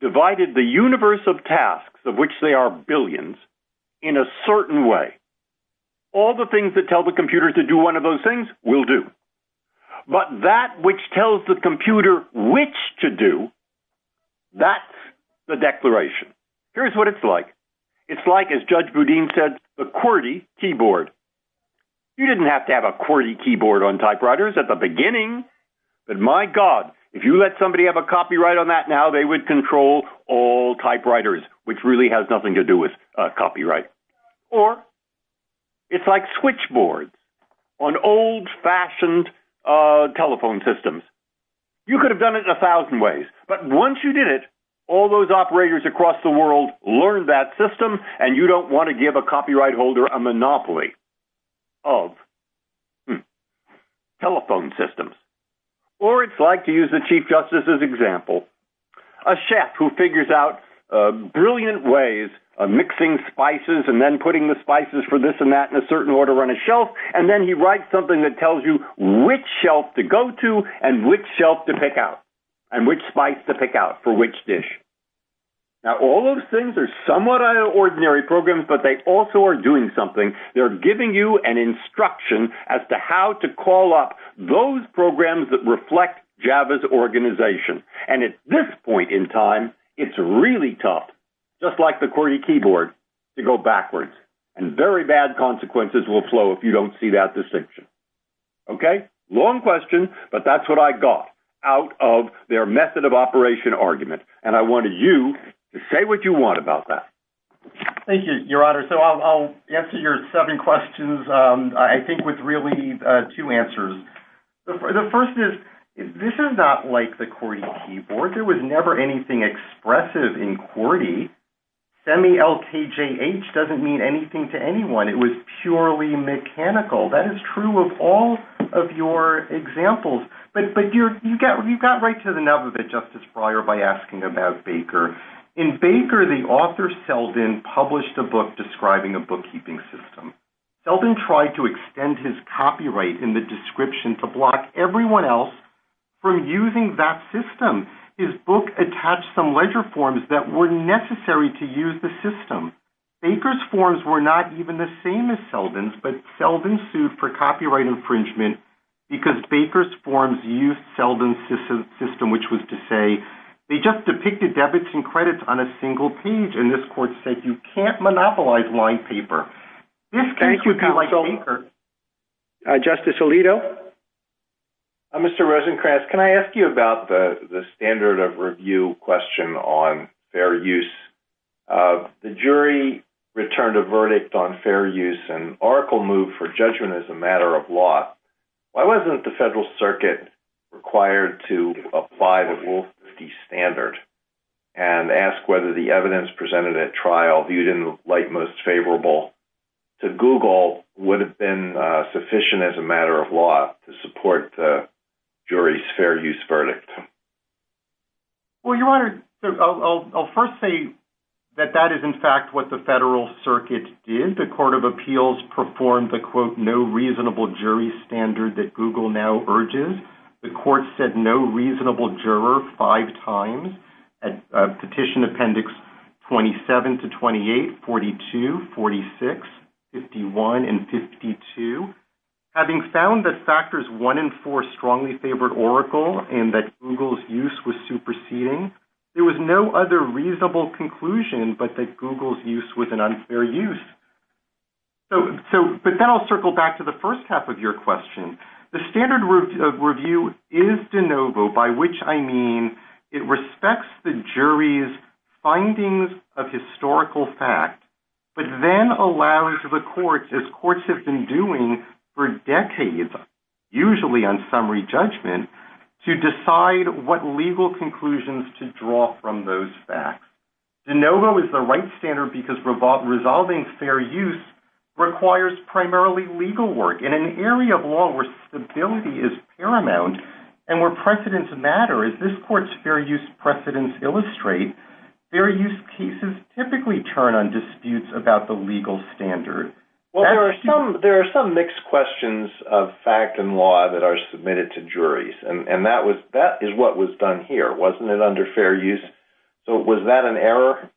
divided the universe of tasks of which they are billions in a certain way. All the things that tell the computer to do one of those things will do. But that which tells the computer which to do, that's the declaration. Here's what it's like. It's like as Judge Boudin said, the keyboard. You didn't have to have a keyboard on typewriters at the beginning. My God, if you let somebody have a copyright, they would control all typewriters which has nothing to do with copyright. Or, it's like switchboard on old-fashioned telephone systems. You could have done it in a thousand ways. Once you did it, all the operators learned that system and you don't want to give a copyright holder a monopoly of telephone systems. Or, it's like, to use the Chief Justice's example, a chef who figures out brilliant ways of mixing spices and putting the spices for this and that in a certain order on a shelf and tells you which shelf to go to and which shelf to pick out. All those things are somewhat ordinary programs but they are giving you an instruction as to how to call up those programs that reflect Java's organization. At this point in time, it's really tough, just like the keyboard, to go backwards. Very bad consequences will flow if you don't see that distinction. Long question, but that's what I got out of their method of operation argument. I want you to say what you want about that. I'll answer your seven questions, I think, with answers. The first is, this is not like the QWERTY keyboard. There was never anything expressive in QWERTY. Semi-LKJH doesn't mean anything to anyone. It was purely mechanical. That is true of all of your examples. You got right to the nub of it by asking about Baker. In Baker, the author published a book describing a bookkeeping system. He tried to block everyone else from using that system. His book did not attach leisure forms that were necessary to use the system. Baker's forms were not the same as Selden's, but Selden sued for infringement because Baker's used Selden's system. They depicted debits and credits on a single page. This court said you can't use Selden's system. The jury returned a verdict on fair use and Oracle moved for judgment as a matter of law. Why wasn't the federal circuit required to apply the rule 50 standard and ask whether the evidence presented at trial would have been sufficient as a matter of law to justify use of Selden's system? I'll first say that that is in fact what the federal circuit did. The court of appeals performed the no reasonable jury standard that Google urges. The court said no reasonable juror five times. Petition appendix 27 to 28, 42, 46, 51 and 52. Having found that factors one and four strongly favored Oracle and that Google's use was superseding, there was no other reasonable conclusion but that Google's use was an unfair use. I'll circle back to the first half of your question. The standard review is de novo by which I mean it respects the jury's findings of historical facts but then allows the courts as courts have been doing for decades usually on summary judgment to decide what legal conclusions to draw from those facts. De novo is the right standard because resolving fair use requires primarily legal work. In an area of law where stability is paramount and where precedence matters, their use cases typically turn on disputes about the legal standard. There are some mixed questions of fact and law that are submitted to juries. That is what was done here. Was that an error?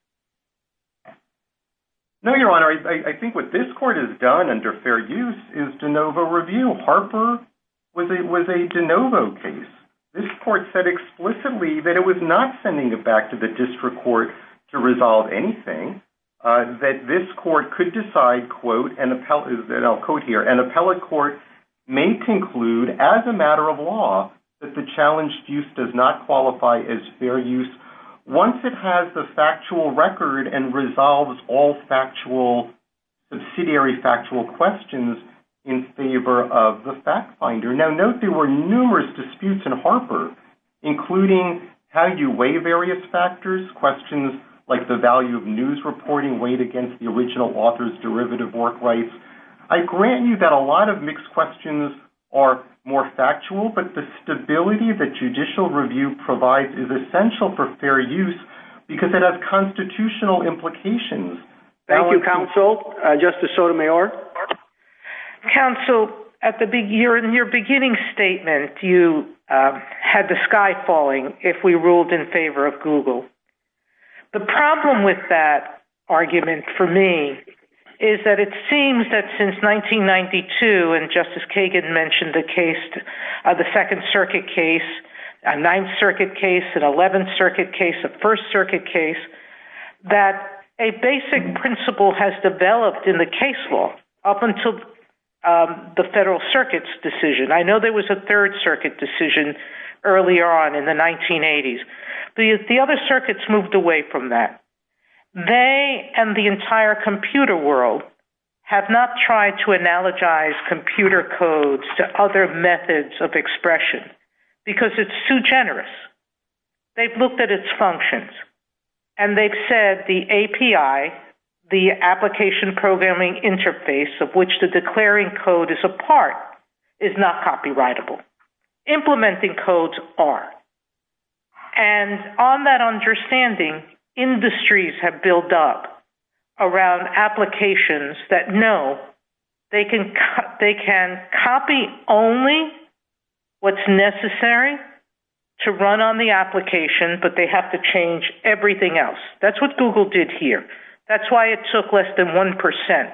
I think what this court has done under fair use is de novo review. Harper was a de novo case. This court said explicitly that it was not sending it back to the district court to resolve anything. An appellate court may conclude as a matter of law that the challenged use does not qualify as fair use once it has the factual record and resolves all subsidiary factual questions in favor of the fact finder. There were numerous disputes including how you weigh various factors. I grant you that a lot of mixed questions are more factual but the stability that judicial review provides is essential for fair use because it has constitutional implications. Thank you, counsel. Justice Sotomayor. Counsel, in your beginning statement, you had the sky falling if we ruled in favor of Google. The problem with that argument for me is that it seems that since 1992 and justice Kagan mentioned the second circuit case, a ninth circuit case, an 11th circuit case, a first circuit case, that a basic principle has developed in the case law up until the federal circuit's decision. I know there was a third circuit decision earlier on in the 1980s. The other circuits moved away from that. They and the entire computer world have not tried to analogize computer codes to other methods of expression because it's too generous. They've looked at its functions and they've said the API, the application programming interface of which the declaring code is a part, is not copyrightable. Implementing codes are. And on that understanding, industries have built up around applications that know they can copy only what's necessary to run on the application but they have to change everything else. That's what Google did here. That's why it took less than 1%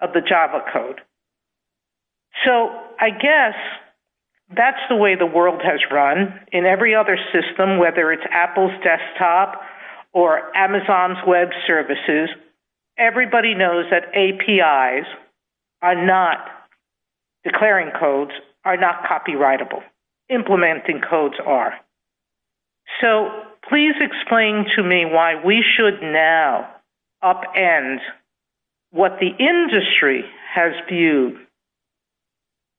of the Java code. So I guess that's the way the world has run in every other ecosystem, whether it's Apple's desktop or Amazon's web services. Everybody knows that APIs are not declaring codes, are not copyrightable. Implementing codes are. So please explain to me why we should now upend what the industry has viewed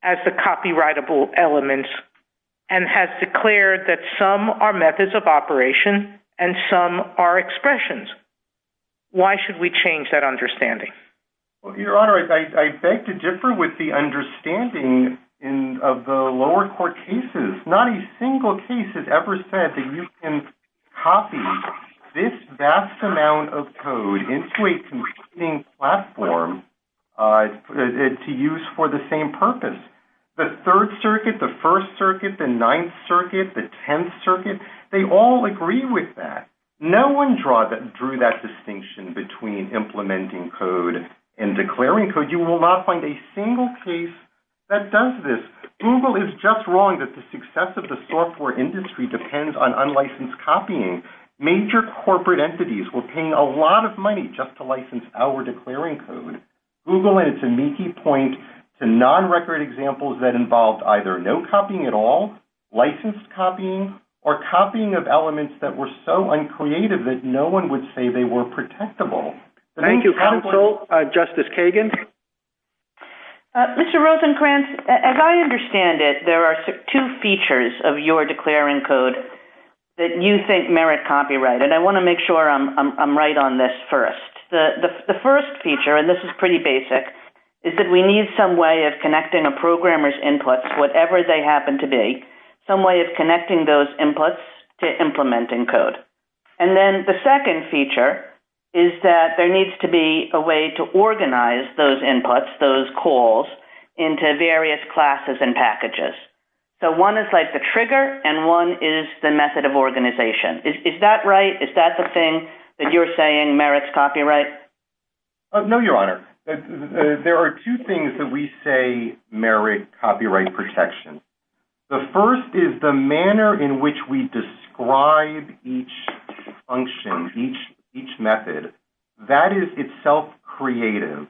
as the copyrightable elements and has declared that some are methods of operation and some are expressions. Why should we change that understanding? I beg to differ with the understanding of the lower court cases. Not a single case has ever said that you can copy this vast amount of code into a competing platform to use for the same purpose. The third circuit, the first circuit, the ninth circuit, the tenth circuit, they all agree with that. No one drew that distinction between implementing code and declaring code. You will not find a single case that does this. Google is just wrong that the success of the software industry depends on unlicensed copying. Major corporate entities will pay a lot of money just to license our declaring code. Non-record examples that involved no copying at all, licensed copying, or copying of elements that were so uncreative that no one would say they were protectable. Thank you, counsel. Justice Kagan? Mr. Rosenkranz, as I understand it, there are two features of your declaring code that you think merit copyright. I want to make sure I'm right on this first. The first feature, and this is pretty basic, is that we need some way of connecting a programmer's inputs to implementing code. The second feature is that there needs to be a way to organize those inputs, those calls, into various classes and packages. One is like the trigger, and one is the method of organization. Is that right? Is that the thing that you're saying merits copyright? No, Your Honor. There are two things that we say merit copyright protection. The first is the manner in which we describe each function, each method. That is itself creative.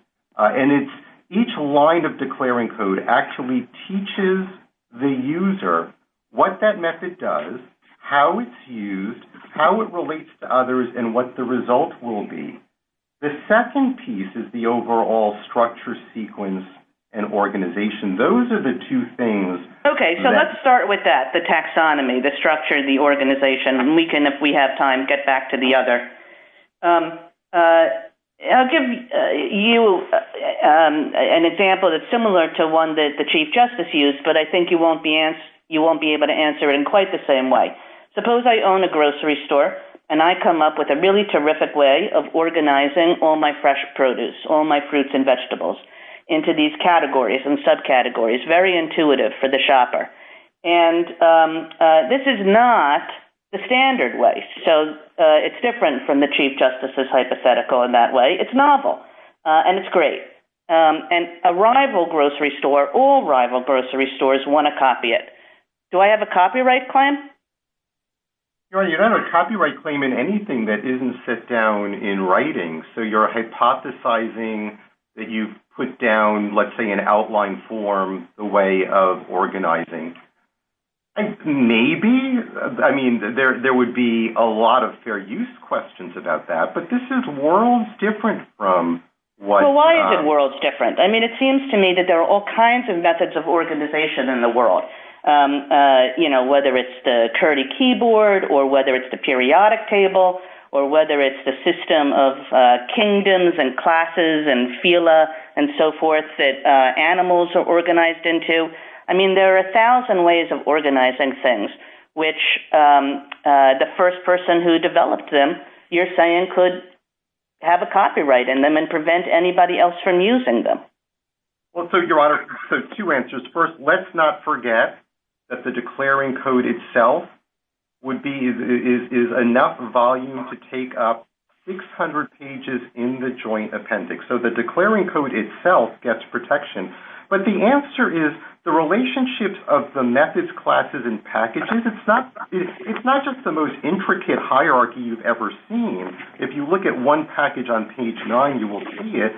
Each line of declaring code actually teaches the user what that method does, how it's used, how it relates to others, and what the result will be. The second piece is the overall structure, sequence, and organization. Those are the two things. Okay, so let's start with that, the taxonomy, the structure, the organization, and we can, if we have time, get back to the other. I'll give you an example that's the same way. Suppose I own a grocery store, and I come up with a terrific way of organizing all my fresh produce into these categories and subcategories, very intuitive for the shopper. This is not the standard way. It's different from the chief justices hypothetical in that way. It's novel and great. And a rival grocery store, all rival grocery stores want to copy it. Do I have a copyright claim? You don't have a copyright claim in anything that doesn't sit down in writing. You're hypothesizing that you put down an outline form, the way of organizing. Maybe, I mean, there would be a lot of fair use questions about that, but this is worlds different. Why is it worlds different? There are all kinds of methods of organization in the world. Whether it's the keyboard or the periodic table or whether it's the system of kingdoms and classes and so forth that animals are organized into. There are a thousand ways of organizing things which the first person who developed them could have a copyright in them and prevent anybody else from using them. Two answers. First, let's not forget that the declaring code itself is enough volume to take up 600 pages in the joint appendix. So the declaring code itself gets protection. But the answer is the relationships of the methods, classes and packages, it's not just the most intricate hierarchy you've ever seen. If you look at one package on page 9, you will see it.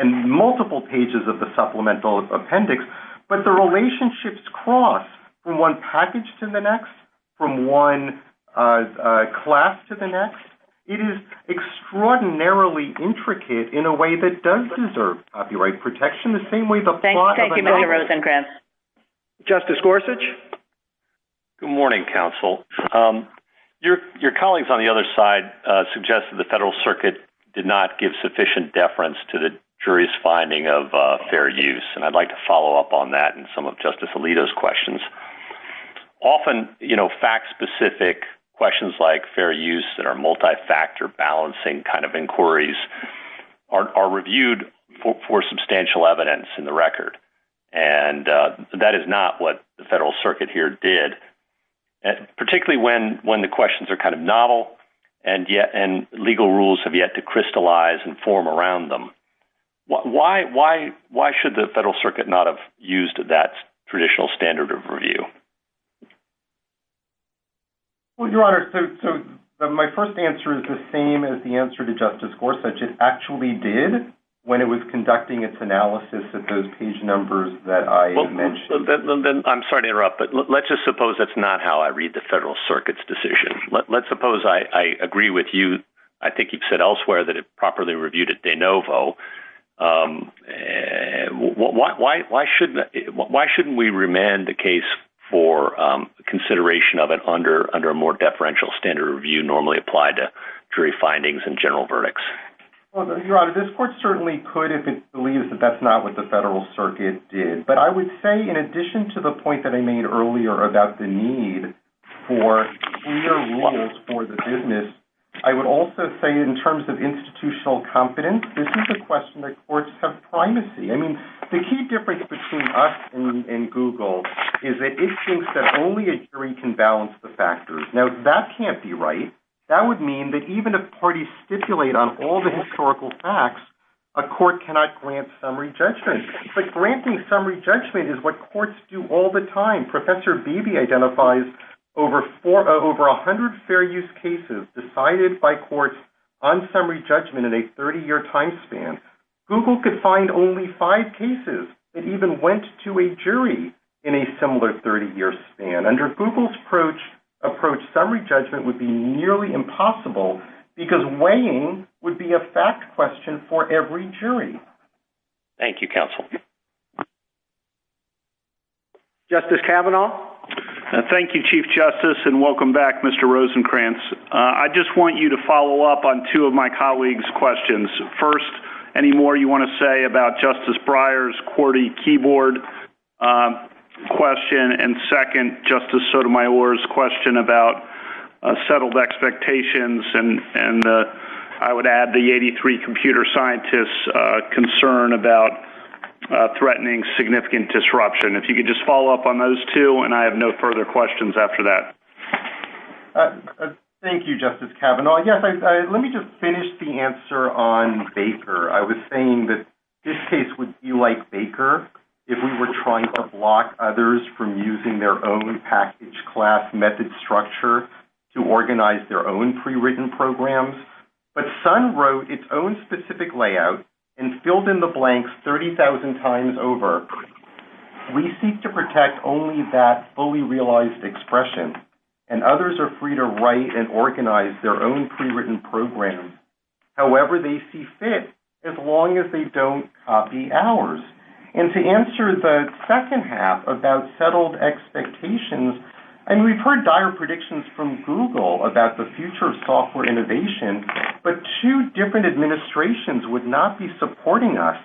And multiple pages of the supplemental appendix. But the relationships cross from one package to the next, from one class to the next. It is extraordinarily intricate in a way that does deserve copyright protection the same way the plot of a notebook does. Justice Gorsuch? Good morning, counsel. Your colleagues on the other side suggested the Federal Circuit did not give sufficient deference to the finding of fair use. I would like to follow up on that. Often, fact-specific questions like fair use that are multi-factor balancing kind of inquiries are reviewed for substantial evidence in the record. And that is not what the Federal Circuit here did. Particularly when the questions are kind of novel and legal rules have yet to crystallize and form around them. Why should the Federal Circuit not have used that traditional standard of review? Well, Your Honor, my first answer is the same as the answer to Justice Gorsuch. It actually did when it was conducting its analysis of those page numbers that I mentioned. think that is the Federal Circuit's decision. Let's suppose I agree with you. I think you said elsewhere that it properly reviewed at DeNovo. Why shouldn't we remand the case for consideration of it under a more deferential standard review normally applied to jury findings and general verdicts? Well, Your Honor, this court certainly could if it believes that's not what the Federal Circuit did. But I would say in addition to the point I made earlier about the need for clear rules for the business, I would also say in terms of institutional confidence, this is a question that courts have all the time. If a court cannot grant summary judgment, granting summary judgment is what courts do all the time. Professor Beebe identifies over 100 fair use cases decided by courts on summary judgment in a 30 year time span. Google could find only five cases that even went to a jury in a similar 30 year span. Under Google's approach, summary judgment would be nearly impossible because weighing would be a fact question for every jury. Thank you, counsel. Kavanaugh? Thank you, Chief Justice, and welcome back, Mr. Rosenkranz. I just want you to follow up on two of my colleagues' questions. First, any more you want to say about Justice Breyer's QWERTY keyboard question, and second, Justice Sotomayor's question about settled expectations and I would add the 83 computer scientists' concern about threatening significant disruption. If you could follow up on those two, and I have no further questions after that. Thank you, Chief Justice Kavanaugh. Let me just finish the answer on Baker. I was saying that this case would be like Baker if we were trying to block others from using their own package class method structure to organize their own prewritten programs, but Sun wrote its own specific package structure to organize their own prewritten programs. However, they see fit as long as they don't copy ours. And to answer the second half about settled expectations, and we heard dire predictions from Google about the future of software innovation, but two different administrations would not be supporting us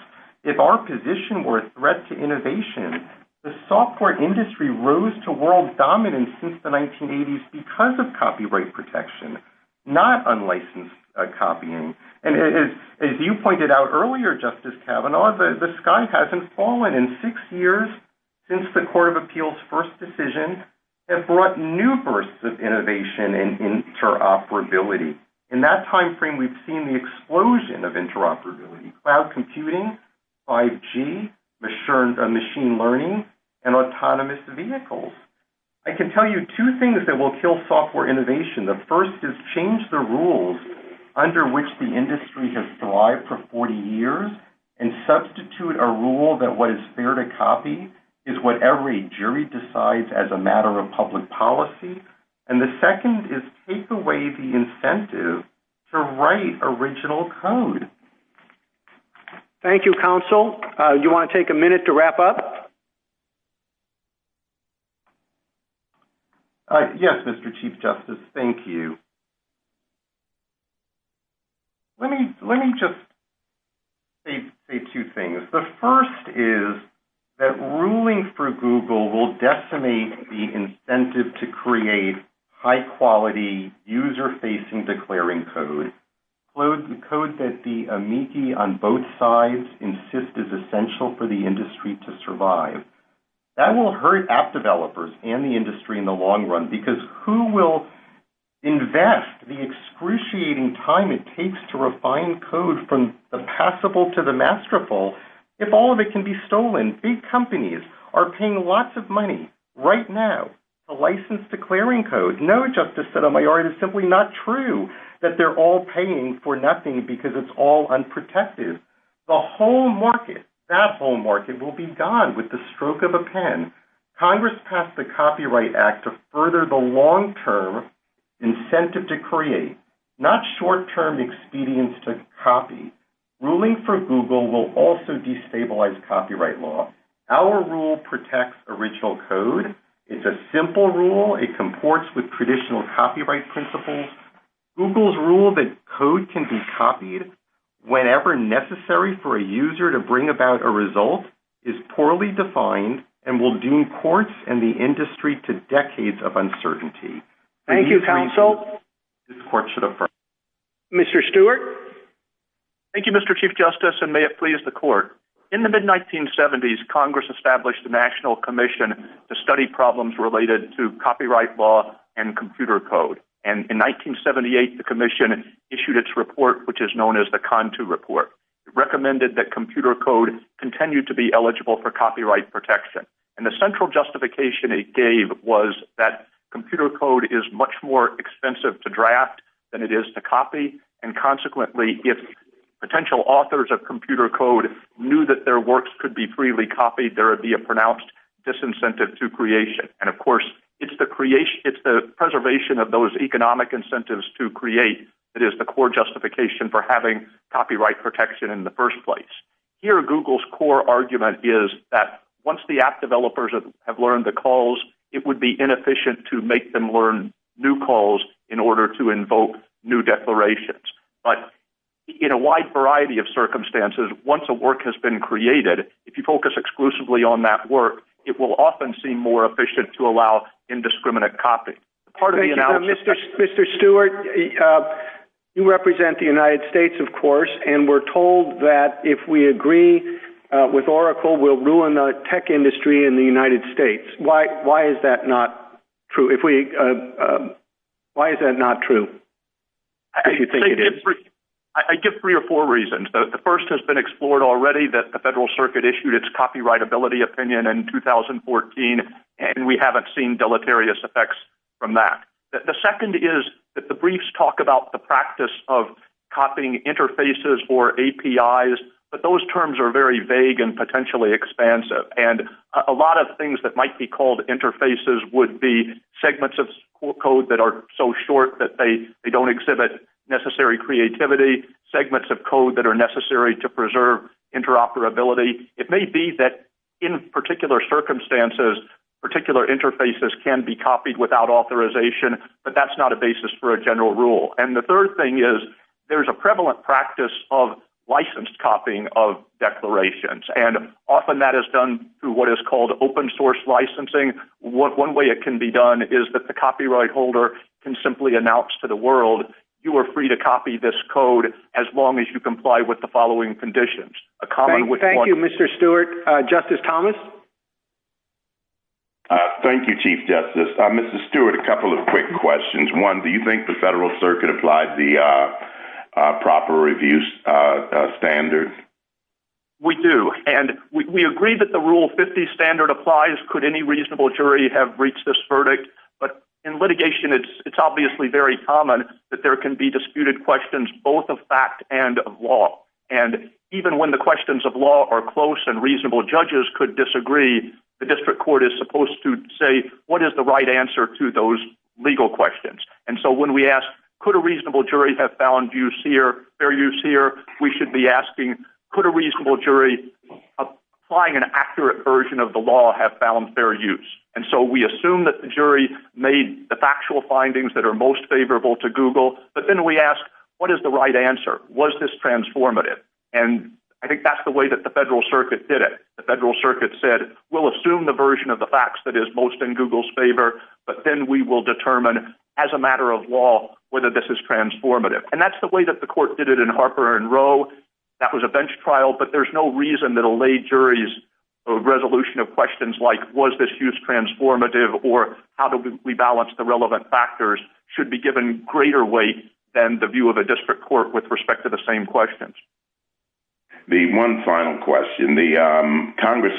if our position were a threat to innovation. The software industry rose to world dominance since the 1980s because of copyright protection, not unlicensed copying. As you pointed out earlier, the sky hasn't fallen in six years since the first decision that brought new bursts of innovation and interoperability. In that time frame, we've seen the explosion of interoperability, cloud computing, 5G, machine learning, and autonomous vehicles. I can tell you two things that will kill software innovation. The first is change the rules under which the industry has thrived for 40 years and substitute a rule that what is fair to copy is what every jury decides as a matter of public policy. And the second is take away the incentive to write original code. Thank you, counsel. You want to take a minute to answer that. Let me just say two things. The first is that ruling for Google will decimate the incentive to create high-quality user-facing declaring code. The code that the amici on both sides insist is essential for the industry to survive. That will hurt app developers and the industry in the long run because who will invest the excruciating time it takes to refine code from the passible to the masterful if all of it can be stolen. Big companies are paying lots of money right now to license declaring code. It's not true that they're all paying for nothing because it's all unprotected. The whole market will be gone with the stroke of a pen. Congress passed the copyright act to further the long-term incentive to create. Not short-term expedience to copy. Ruling for Google will also destabilize copyright law. Our rule protects original code. It's a simple rule. It comports with traditional copyright principles. Google's rule that code can be copied whenever necessary for a user to bring about a result is poorly defined and will deem courts and the industry to decades of uncertainty. Thank you, counsel. Mr. Stewart. Thank you, Mr. Chief Justice. In the mid-1970s Congress established the national commission to study problems related to copyright law and computer code. In 1978 the commission issued its report. It recommended that computer code continue to be eligible for copyright protection. The central justification it gave was that computer code is much more expensive to draft than it is to copy. Consequently, if potential authors of code were to be copied there would be a disincentive to creation. It's the preservation of those economic incentives to create that is the core justification for having copyright protection in the first place. Here Google's core argument is that once the app developers have learned the calls it would be inefficient to make them learn new calls in order to invoke new declarations. In a wide variety of circumstances once a work has been created if you focus exclusively on that work it will often seem more efficient to allow indiscriminate copying. Mr. Stewart, you represent the United States of course and we're told that if we agree with Oracle we'll ruin the tech industry in the United States. Why is that not true? Why is that not true? I give three or four reasons. The first has been explored already that the Federal Circuit issued its copyrightability opinion in 2014 and we haven't seen deleterious effects from that. The second is that the briefs talk about the practice of copying interfaces or APIs but those terms are very common. The third reason is that there's a prevalent practice of licensed copying of called open source licensing. One way to do that is to have a license copy of the declarations and have a license copy declarations. The only way it can be done is that the copyright holder can simply announce to the world you are free to copy this code as long as you comply with the following conditions. Thank you Mr. Stewart. Justice Thomas? Thank you Chief Attorney. I think it's very common that there can be disputed questions both of fact and law. Even when the questions of law are close and reasonable judges could disagree, the district court is supposed to say what is the right answer to those legal questions. When we ask could a reasonable jury have found fair use here, we should be asking could a reasonable jury have found fair use. We assume that the jury made the factual findings that are most favorable to Google, but then we ask what is the right answer? Was this transformative? I think that's the way the federal circuit did it. circuit said we'll assume the facts in Google's favor, but then we'll determine whether this is transformative as a matter of law. That's the way the court did it. That was a bench trial, but there's no reason that a resolution of questions like was this transformative should be given greater weight than the view of a district court with respect to the same questions. One final question, Congress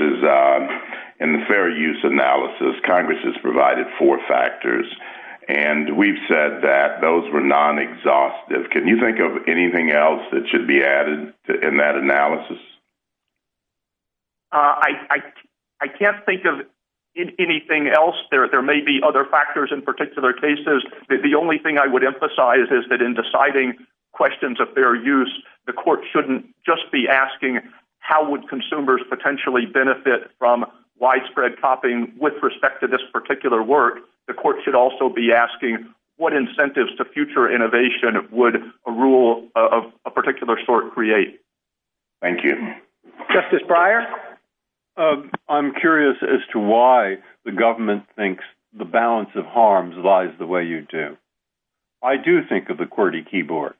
has provided four factors, and we've said that those were non-exhaustive. Can you think of anything else that should be added in that analysis? I can't think of anything else. There may be other factors in particular cases. The only thing I would emphasize is that in deciding questions of their use, the court shouldn't just be asking how would consumers potentially benefit from widespread copying with respect to this particular work, the court should also be asking what incentives to future innovation would a particular sort create. Thank you. Justice Breyer? I'm curious as to why the government thinks the balance of harms lies the way you do. I do think of the QWERTY keyboard.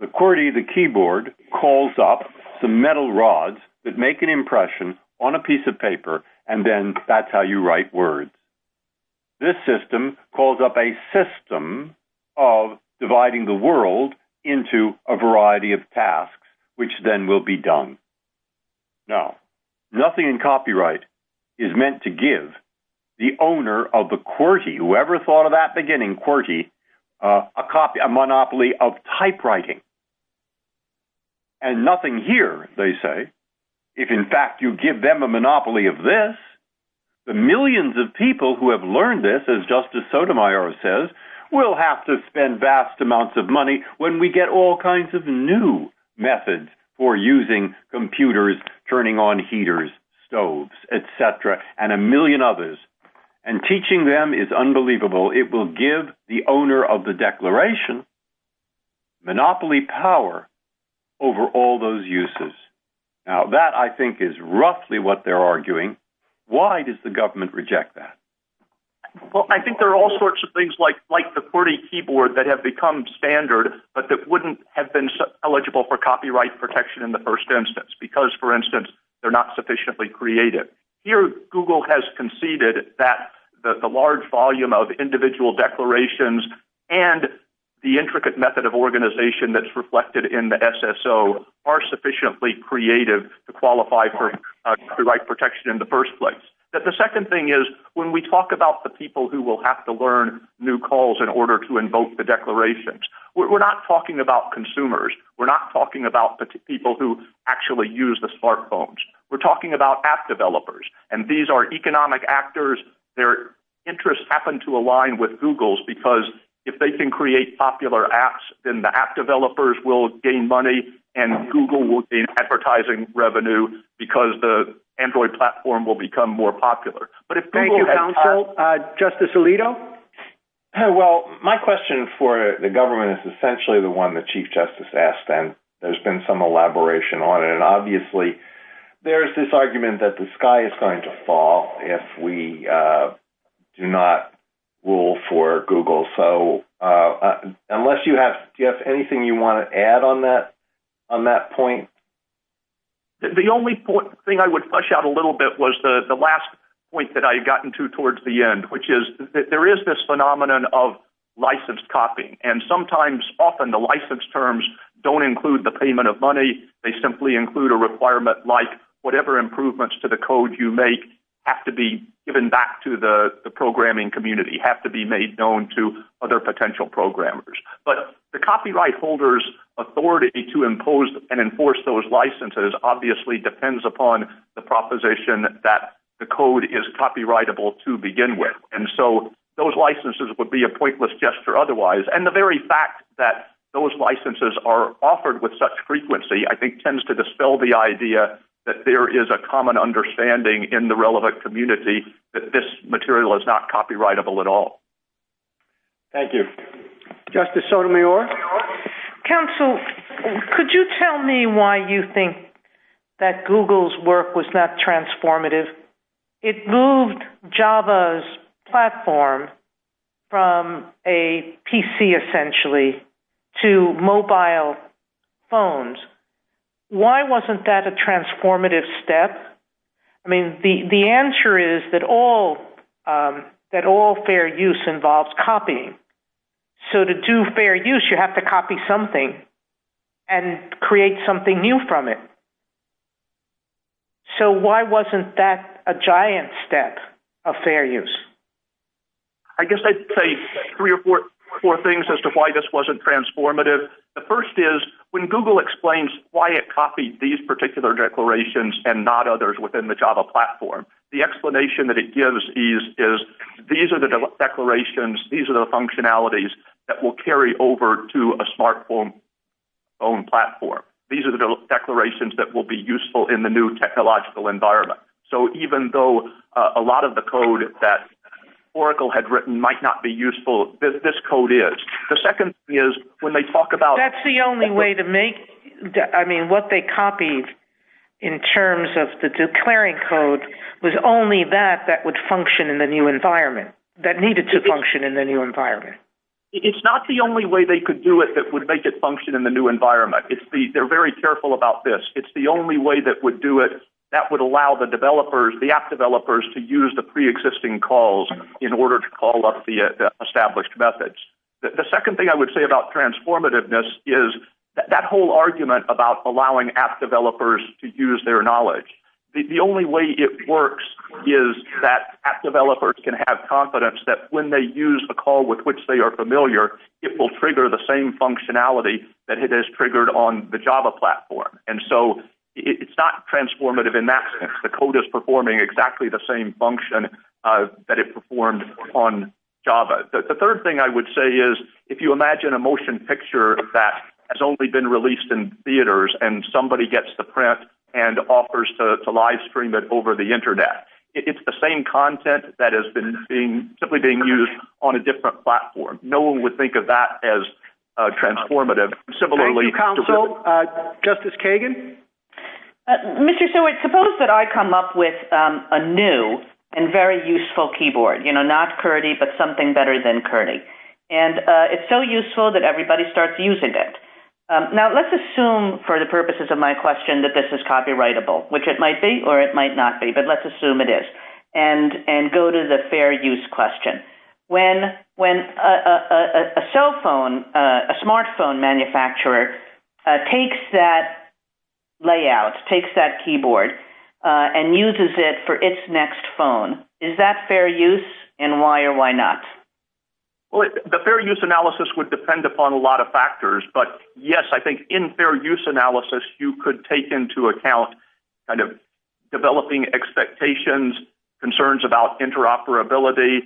The QWERTY keyboard calls up the metal rods that make an impression on a piece of paper and then that's how you write words. This system calls up a system of dividing the world into a variety of tasks, which then will be done. Now, nothing in copyright is meant to give the owner of the QWERTY, whoever thought of that beginning, a monopoly of typewriting. And nothing here, they say, if in fact you give them a monopoly of this, the millions of people who have learned this, as Justice Sotomayor says, will have to spend vast amounts of money when we get all kinds of new methods for using computers, turning on heaters, stoves, et cetera, and a monopoly of the owner of the declaration, monopoly power over all those uses. Now, that, I think, is roughly what they're arguing. Why does the government reject that? Well, I think there are all sorts of things like the QWERTY keyboard that have become standard, but that wouldn't have been the case in the first place. The second thing is when we talk about the people who will declarations, we're not talking about consumers. We're talking about the people who will have to learn new calls in order to invoke the declarations. We're not talking about the people who actually use the smartphones. We're talking about app developers. These are economic actors. Their interests happen to align with Google's because if they can create popular apps, the app developers will gain money and Google will gain advertising revenue because the Android platform will gain advertising revenue. There's been some elaboration on it. Obviously, there's this argument that the sky is going to fall if we do not rule for Google. Unless you have anything you want to add on that point? The only thing I would push out a little bit was the last point I got at the end. There is this phenomenon of license copying. The license terms don't include the payment of money. They include a requirement like whatever improvements to the code you make have to be given back to the programming community. The copyright holder's authority to enforce those licenses depends upon the proposition that the code is copyrightable to begin with. Those licenses would be a pointless gesture otherwise. The very fact that those licenses are offered with such frequency tends to dispel the idea that there is a common understanding in the relevant community that this material is not copyrightable at all. Thank you. Counsel, could you tell me why you think that Google's work was not transformative? It moved Java's platform from a PC essentially to mobile phones. Why wasn't that a transformative step? I mean, the answer is that all fair use involves copying. So to do fair use, you have to copy something and create something new from it. So why wasn't that a giant step of fair use? I guess I'd say three or four things as to why this wasn't transformative. The first is when Google explains why it copied these declarations, these are the functionalities that will carry over to a smartphone platform. These are the declarations that will be useful in the new technological environment. So even though a lot of the code that Oracle had written might not be useful, this code is. The second thing is when they copy that they copied, that's the only way to make that. What they copied in terms of the declaring code was only that that would function in the new environment. It's not the only way they could do it. They're very careful about this. It's the only way that would allow the app developers to use the pre-existing calls in order to call up the established methods. The second thing is that whole argument about allowing app developers to use their knowledge. The only way it works is that app developers can have the same functionality that it has triggered on the Java platform. It's not transformative in that sense. The code is performing the same function that it performed on Java. The third thing is if you imagine a motion picture that has only been released in theaters and somebody gets the print and offers to print it, it's going to be used on a different platform. No one would think of that as transformative. Justice Kagan? Suppose I come up new and useful keyboard. It's so useful that everybody starts using it. Let's assume for the purposes of my question that this is a smartphone manufacturer that takes that layout, takes that keyboard, and uses it for its next phone. Is that fair use and why or why not? The fair use analysis would depend on a lot of factors. In fair use analysis, you could take into account developing expectations, concerns about interoperability.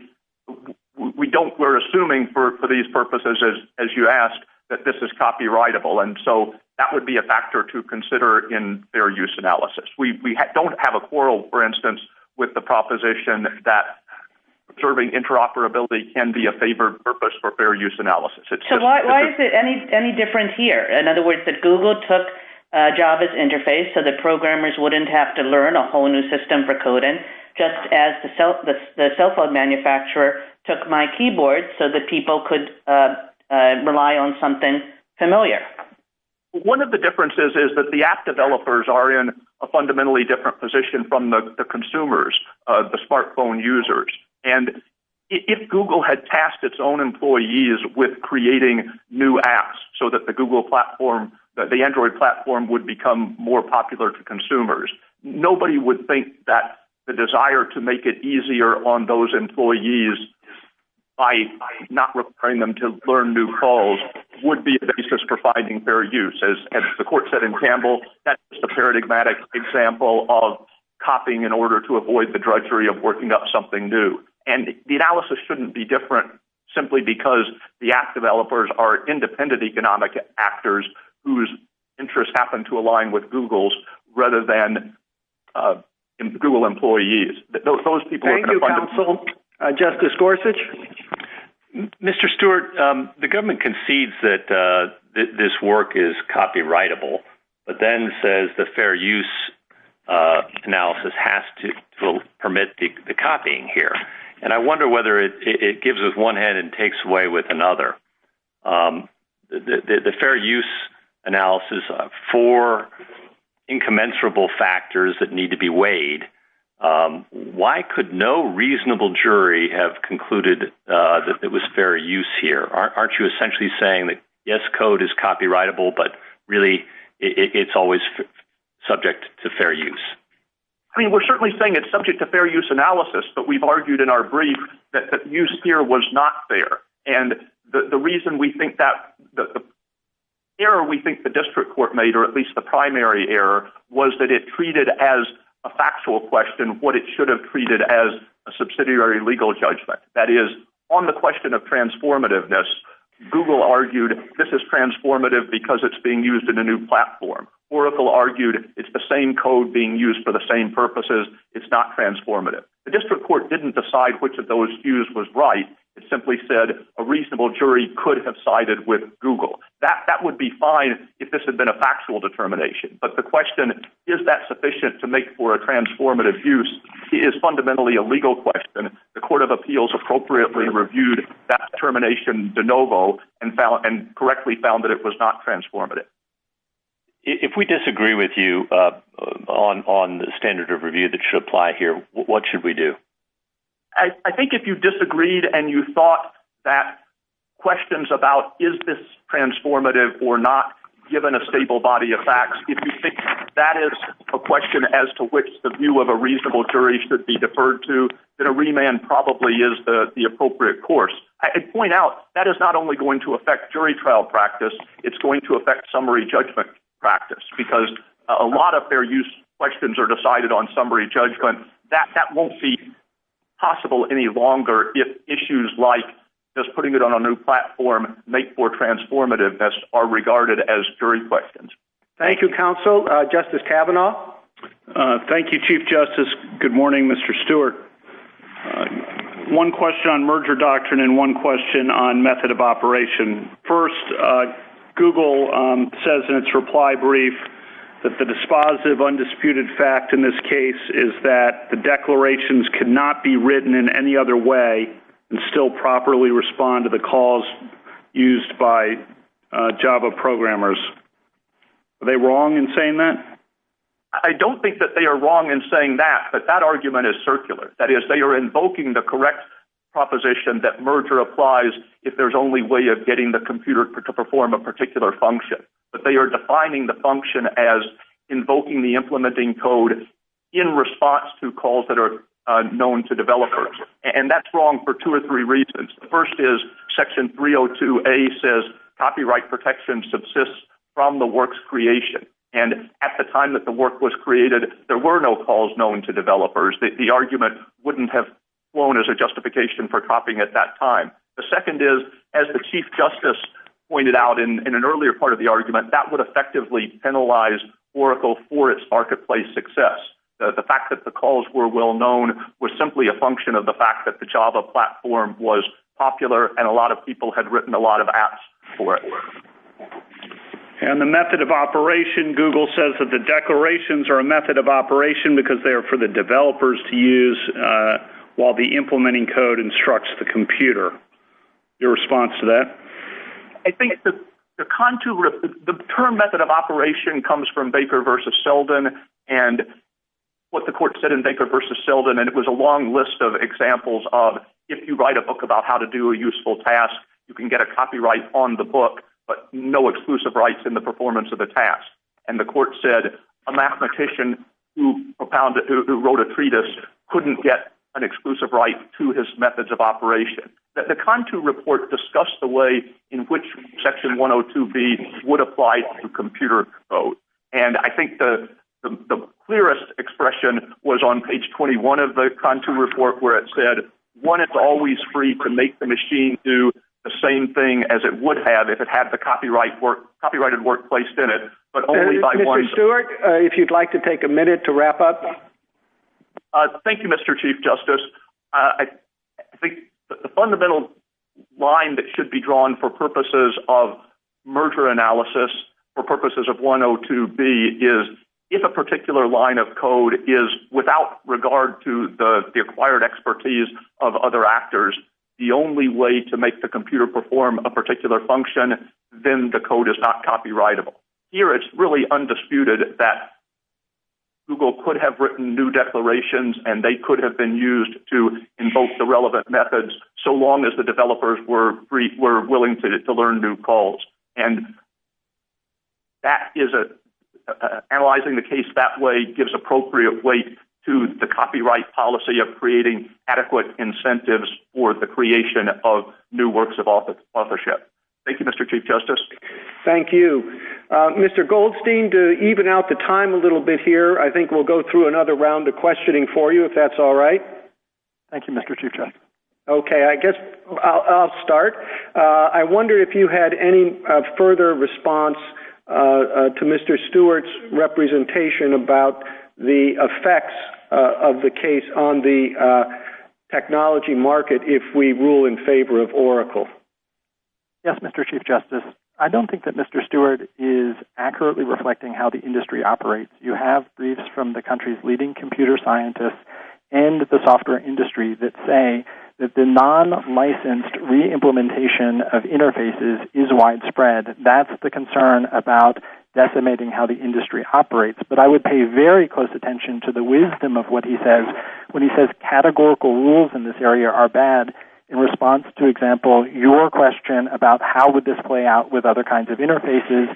We're assuming for these purposes as you asked that this is copyrightable. That would be a factor to consider in fair use analysis. We don't have a quarrel with the proposition that observing interoperability can be a favorite purpose for fair use analysis. Why is it any different here? In other words, Google took Java's interface so the programmers wouldn't have to learn a whole new system for coding just as the cell phone manufacturer took my keyboard so people could rely on something familiar. One of the differences is the app developers are in a fundamentally different position from the consumers, the smartphone users. If Google had tasked its own employees with creating new apps so the Android platform would become more popular to consumers, nobody would think the desire to make it easier on those employees by not requiring them to learn new calls would be a basis for finding fair use. That's a paradigmatic example of copying in order to avoid the drudgery of working up something new. The analysis shouldn't be different simply because the app developers are independent economic actors whose interests happen to align with Google's rather than Google employees. Thank you, counsel. Justice Gorsuch. Mr. Stewart, the government concedes that this work is copyrightable but then says the fair use analysis has to permit the copying here. I wonder whether it gives us one hand and takes away with another. The fair use analysis, four incommensurable factors that need to be weighed, why could no reasonable jury have said yes, code is copyrightable but it's always subject to fair use. We're saying it's subject to fair use analysis but we argued it was not fair. The reason we think the error we think the district court made was that it treated as a factual question what it should have treated as a factual question. Oracle argued this is transformative because it's being used in a new platform. Oracle argued it's the same code being used for the same purposes. The district court didn't decide which was right. It said a reasonable jury could have sided with Google. That would be fine if it was a factual determination. But the question is that sufficient to make for a transformative use is a legal question. The court appropriately reviewed that and found it was not transformative. If we disagree with you on the standard of review that should apply here, what should we do? I think if you disagreed and thought that questions about is this transformative or not given a stable body of facts, if you think that is a question to refer to, a remand is the appropriate course. That will affect summary judgment practice. A lot of questions are decided on summary judgment. That won't be possible any longer if issues like putting it on a new platform are regarded as jury questions. Thank you, counsel. Justice Kavanaugh? Thank you, Chief Justice. Good morning, Mr. Stewart. One question on merger doctrine and one question on method of operation. First, Google says in its reply brief that the dispositive undisputed rule of law is that the declarations cannot be written in any other way and still properly respond to the calls used by Java programmers. Are they wrong in saying that? I don't think they're wrong in saying that, but that argument is circular. They're invoking the law and implementing code in response to calls that are known to developers. That's wrong for two or three reasons. The first is section 302A says copyright protection subsists from the work's creation. At the time the work was created, there were no calls known to developers. The argument wouldn't have flown as a justification for copying at that time. The second is as the chief justice pointed out in an earlier part of the argument, that would effectively penalize Oracle for its marketplace success. The fact that the calls were well-known was simply a function of the fact that the Java platform was popular and a lot of people had written a lot of apps for it. And the method of operation, Google says that the declarations are a method of operation because they're for the developers to use while the implementing code is for developers to use. I think the term method of operation comes from Baker versus Selden. It was a long list of examples of if you write a book about how to do a useful task, you can get a copyright on the book but no exclusive rights in the performance of the task. And the court said a mathematician who wrote a treatise couldn't get an exclusive right to his methods of operation. The report discussed the way it would apply to computer code. I think the clearest expression was on page 21 of the report where it said one, it's always free to make the machine do the task. always free to have the copyrighted work placed in it. Mr. Stewart, if you'd like to take a minute to wrap up. Thank you, Mr. Chief Justice. The fundamental line that should be drawn for purposes of merger analysis for purposes of 102B is if a particular line of code is not copyrightable, it's undisputed that Google could have written new declarations and they could have been used to invoke the relevant methods so long as the developers were willing to learn new calls. Analyzing the case that way gives appropriate weight to the copyright policy of creating adequate incentives for the creation of new works of authorship. Thank you, Mr. Chief Justice. Thank you. Mr. Goldstein, to even out the time a little bit here, I think we'll go through another round of questioning for you if that's all right. Thank you, Mr. Chief Justice. I'll start. I wonder if you had any further response to Mr. Stewart's representation about the effects of the technology market if we rule in favor of Oracle. Yes, Mr. Chief Justice. I don't think that Mr. Stewart is accurately reflecting how the industry operates. You have briefs from the country's leading computer scientists and the software industry that say that the non-licensed re-implementation of interfaces is widespread. That's the concern about decimating how the industry operates. I would pay close attention to the wisdom of what he says when he says categorical rules in this area are bad in response to your question about how would this play out with other kinds of interfaces.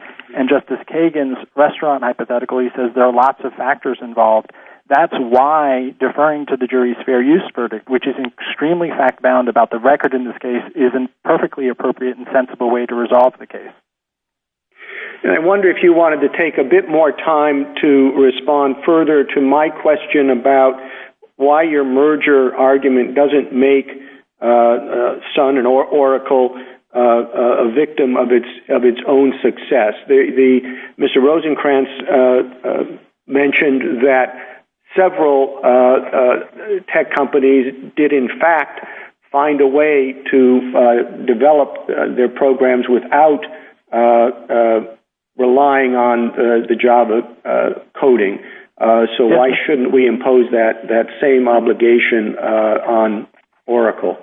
There are lots of factors involved. That's why deferring to the jury's fair use verdict, which is fact-bound in the case, is a perfectly appropriate and sensible way to resolve the case. I wonder if you wanted to take a bit more time to respond further to my question about why your merger argument doesn't make Sun and Oracle a victim of its own success. Mr. Rosenkranz mentioned that several tech companies did in fact find a way to develop their programs without relying on the job of coding. So why shouldn't we impose that same obligation on Oracle?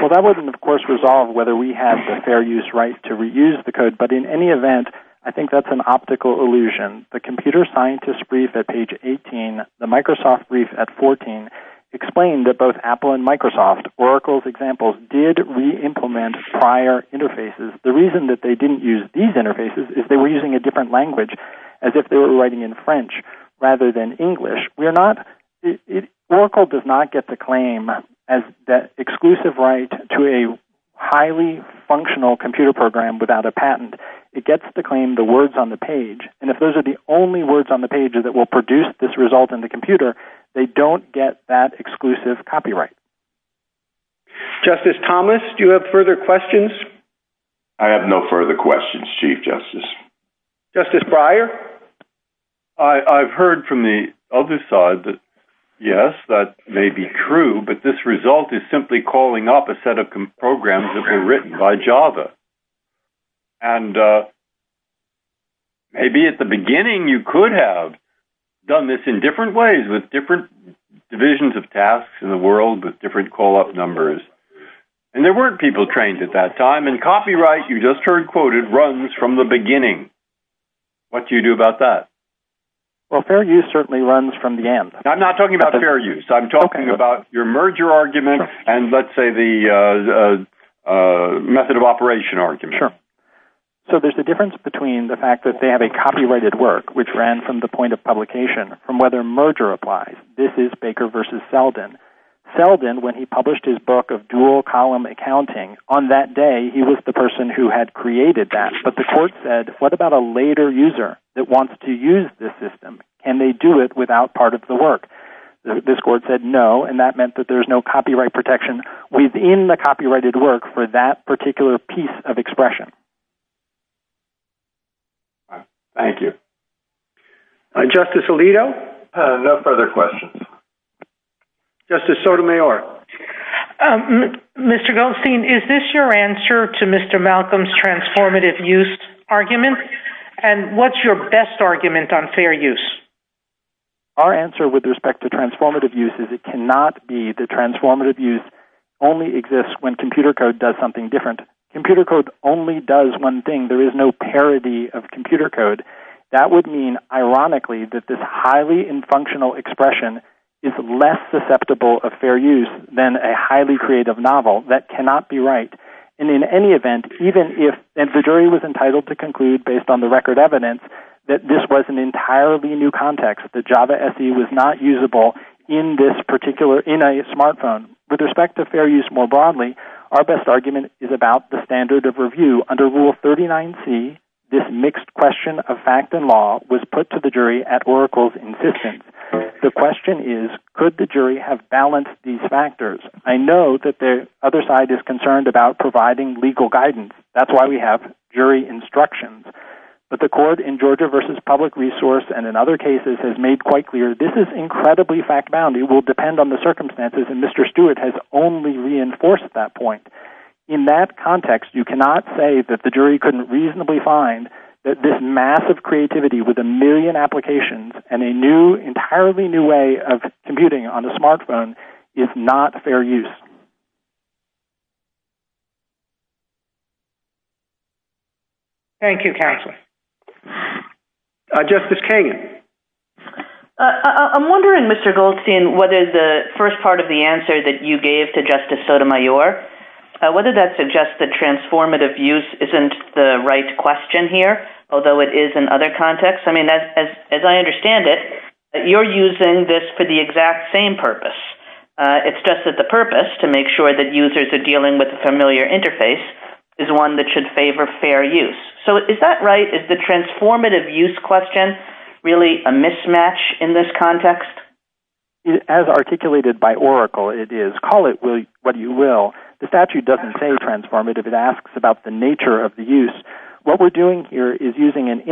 Well, that wasn't, of course, resolved whether we had the fair use right to reuse the code, but in any event, I think that's an optical illusion. The computer scientist brief at page 18, the Microsoft brief at 14, explained that both Apple and Microsoft, Oracle's examples, did re-implement prior interfaces. The reason that they didn't use these interfaces is they were using a different language as if they were writing in French rather than English. Oracle does not get to claim that exclusive right to a highly functional computer program without a patent. It gets to claim the words on the page, and if those are the only words on the page that will produce this result in the computer, they don't get that exclusive copyright. Justice Thomas, do you have further questions? I have no further questions, Chief Justice. Justice Breyer? I've heard from the other side that, yes, that may be true, but this result is simply calling off a set of programs that were written by Java. And maybe at the beginning you could have done this in different ways with different divisions of tasks in the world with different call-up numbers, and there weren't people trained at that time, and copyright, you just heard quoted, runs from the beginning. What do you do about that? Fair use certainly runs from the end. I'm not talking about fair use. I'm talking about your merger argument and let's say the method of operation argument. Sure. So there's a difference between the fact that they have a copyrighted work which ran from the point of publication, from whether merger applies. This is Baker v. Selden. Selden, when he published his book of dual column accounting, on that day he was the person who had created that, but the work was not available, and that meant that there's no copyright protection within the copyrighted work for that particular piece of expression. Thank you. Justice Alito? No further questions. Justice Sotomayor? Mr. Goldstein, is this your answer to Mr. Malcolm's transformative use argument, and what's your best argument on fair use? Our answer with respect to fair use is that it cannot be that transformative use only exists when computer code does something different. Computer code only does one thing. There is no parity of computer code. That would mean, ironically, that this highly infunctional expression is less susceptible of fair use than a highly creative novel. That cannot be right, and in any event, even if the jury was entitled to conclude based on the record evidence, that this was an entirely new context, that Java SE was not usable in a smartphone. With respect to fair use more broadly, our best argument is about the standard of review. Under rule 39C, this does not provide legal guidance. That's why we have jury instructions. This is incredibly fact-bound. It will depend on the circumstances. In that context, you cannot say that the jury couldn't reasonably find that this massive creativity with a million applications and a huge effort was necessary. Thank you. Thank you, counsel. Justice Kagan. I'm wondering, Mr. Goldstein, what is the first part of the answer you gave to Justice Sotomayor, whether transformative use is not the right question here, although it is in other contexts? As I understand it, you're using this for the exact same purpose. It's just that the purpose to make sure that users are dealing with a familiar interface is one that should favor fair use. Is that right? Is the purpose of sure that users are dealing with a familiar interface? Is it the right answer? And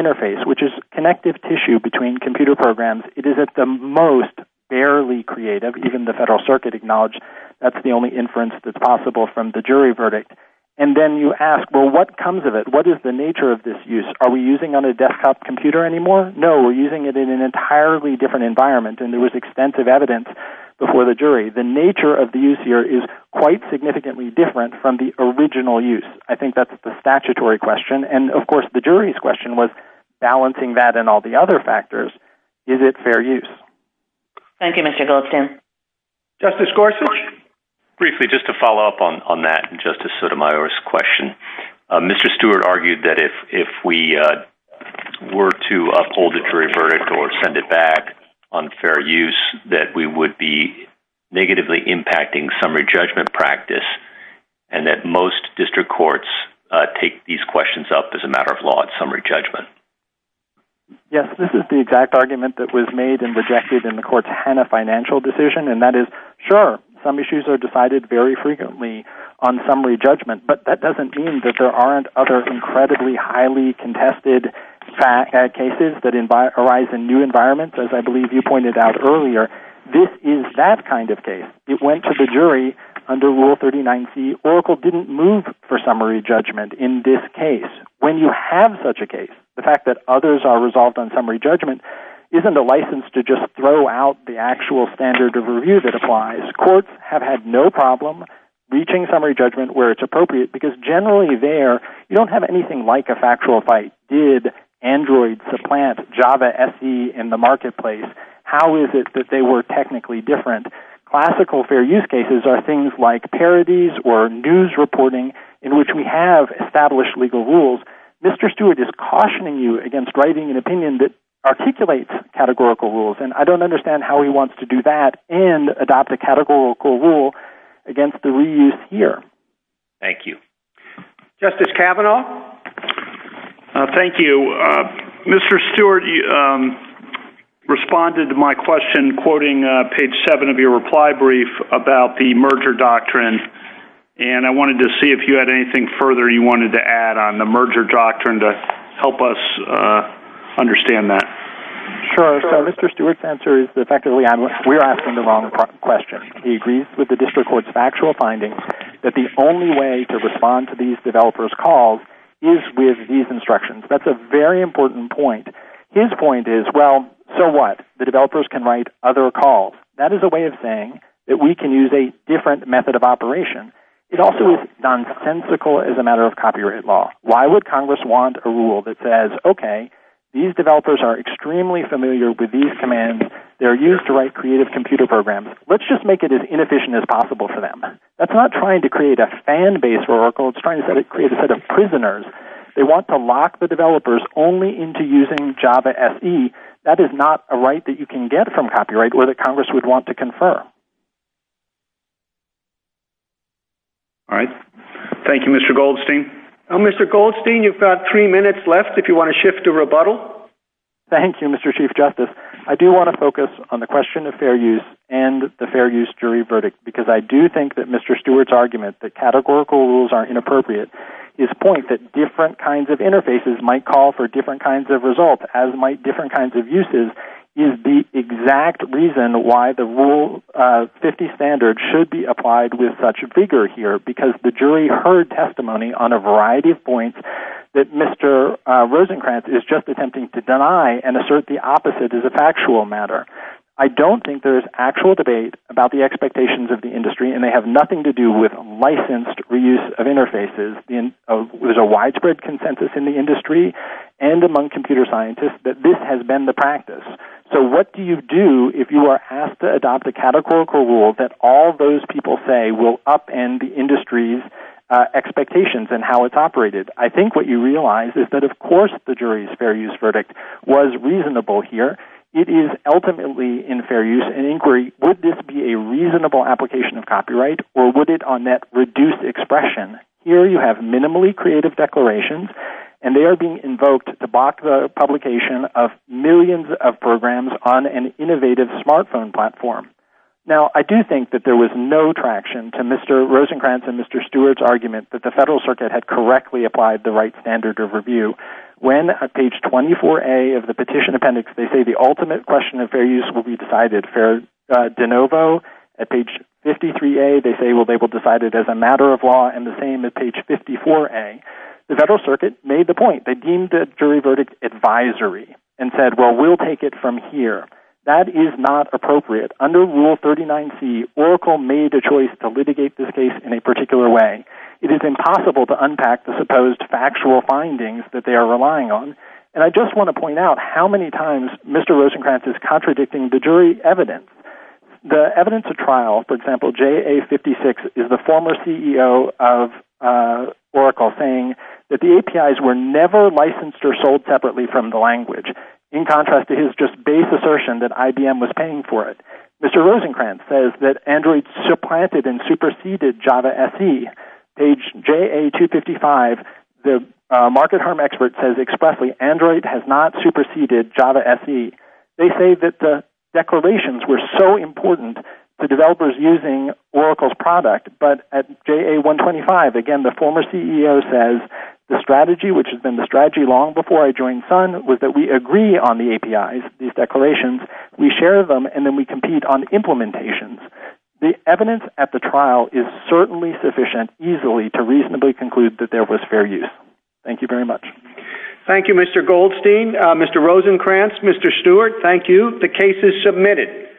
then you ask, well, what comes of it? What is the nature of this use? Are we using it on a desktop computer anymore? No, we're using it in an entirely different environment. The nature of the use here is quite significantly different from the original use. I think that's the statutory question. Is it fair use? Thank you, Mr. Goldstein. Just to follow up on that, Mr. Stewart argued that if we were to uphold the jury verdict or send it back, unfair use, that we would be negatively impacting summary judgment practice and that most district courts take these questions up as a matter of law and summary judgment. Yes, this is the exact argument that was made in the court's financial decision and that is, sure, some issues are decided frequently on summary judgment but that doesn't mean that there aren't other highly contested cases that arise in new environments. This is that kind of case. It went to the jury under rule 39C. The fact that Oracle didn't move for summary judgment in this case, when you have such a case, isn't a license to throw out the actual standard of review that applies. Courts have had no problem reaching summary judgment where it is appropriate because generally there you don't have anything like a factual fight. Did Android supplant Java SE in the marketplace? How is it that they were technically different? Classical fair use cases are things like parodies or news reporting in which we have established legal rules. Mr. Stewart is asking about the merger doctrine. I wanted to see if you had anything further you wanted to add on the merger doctrine to help us understand that. Mr. Stewart's answer is that we are asking the wrong question. He agrees that the only way to respond to these developers' calls is with these instructions. That's a very important point. His point is, well, so what? The developers can write other calls. That is a way of saying that we can use a different method of operation. It also is nonsensical as a matter of copyright law. Why would Congress want a rule that says, okay, these developers are extremely familiar with these commands. Let's just make it as inefficient as possible for them. It's not trying to create a fan base. It's trying to create a set of prisoners. That is not a right that you can get from copyright law that Congress would want to confirm. Thank you, Mr. Goldstein. Mr. Goldstein, you have three minutes left if you want to shift to rebuttal. Thank you, Mr. Chief Justice. I do want to focus on the question of fair use. I do think that Mr. Stewart's argument that the evidence at the trial is certainly sufficient to reasonably conclude that there was fair use. Thank you. Thank you, Mr. Goldstein, Mr. Rosenkranz, Mr. Stewart. The case is submitted.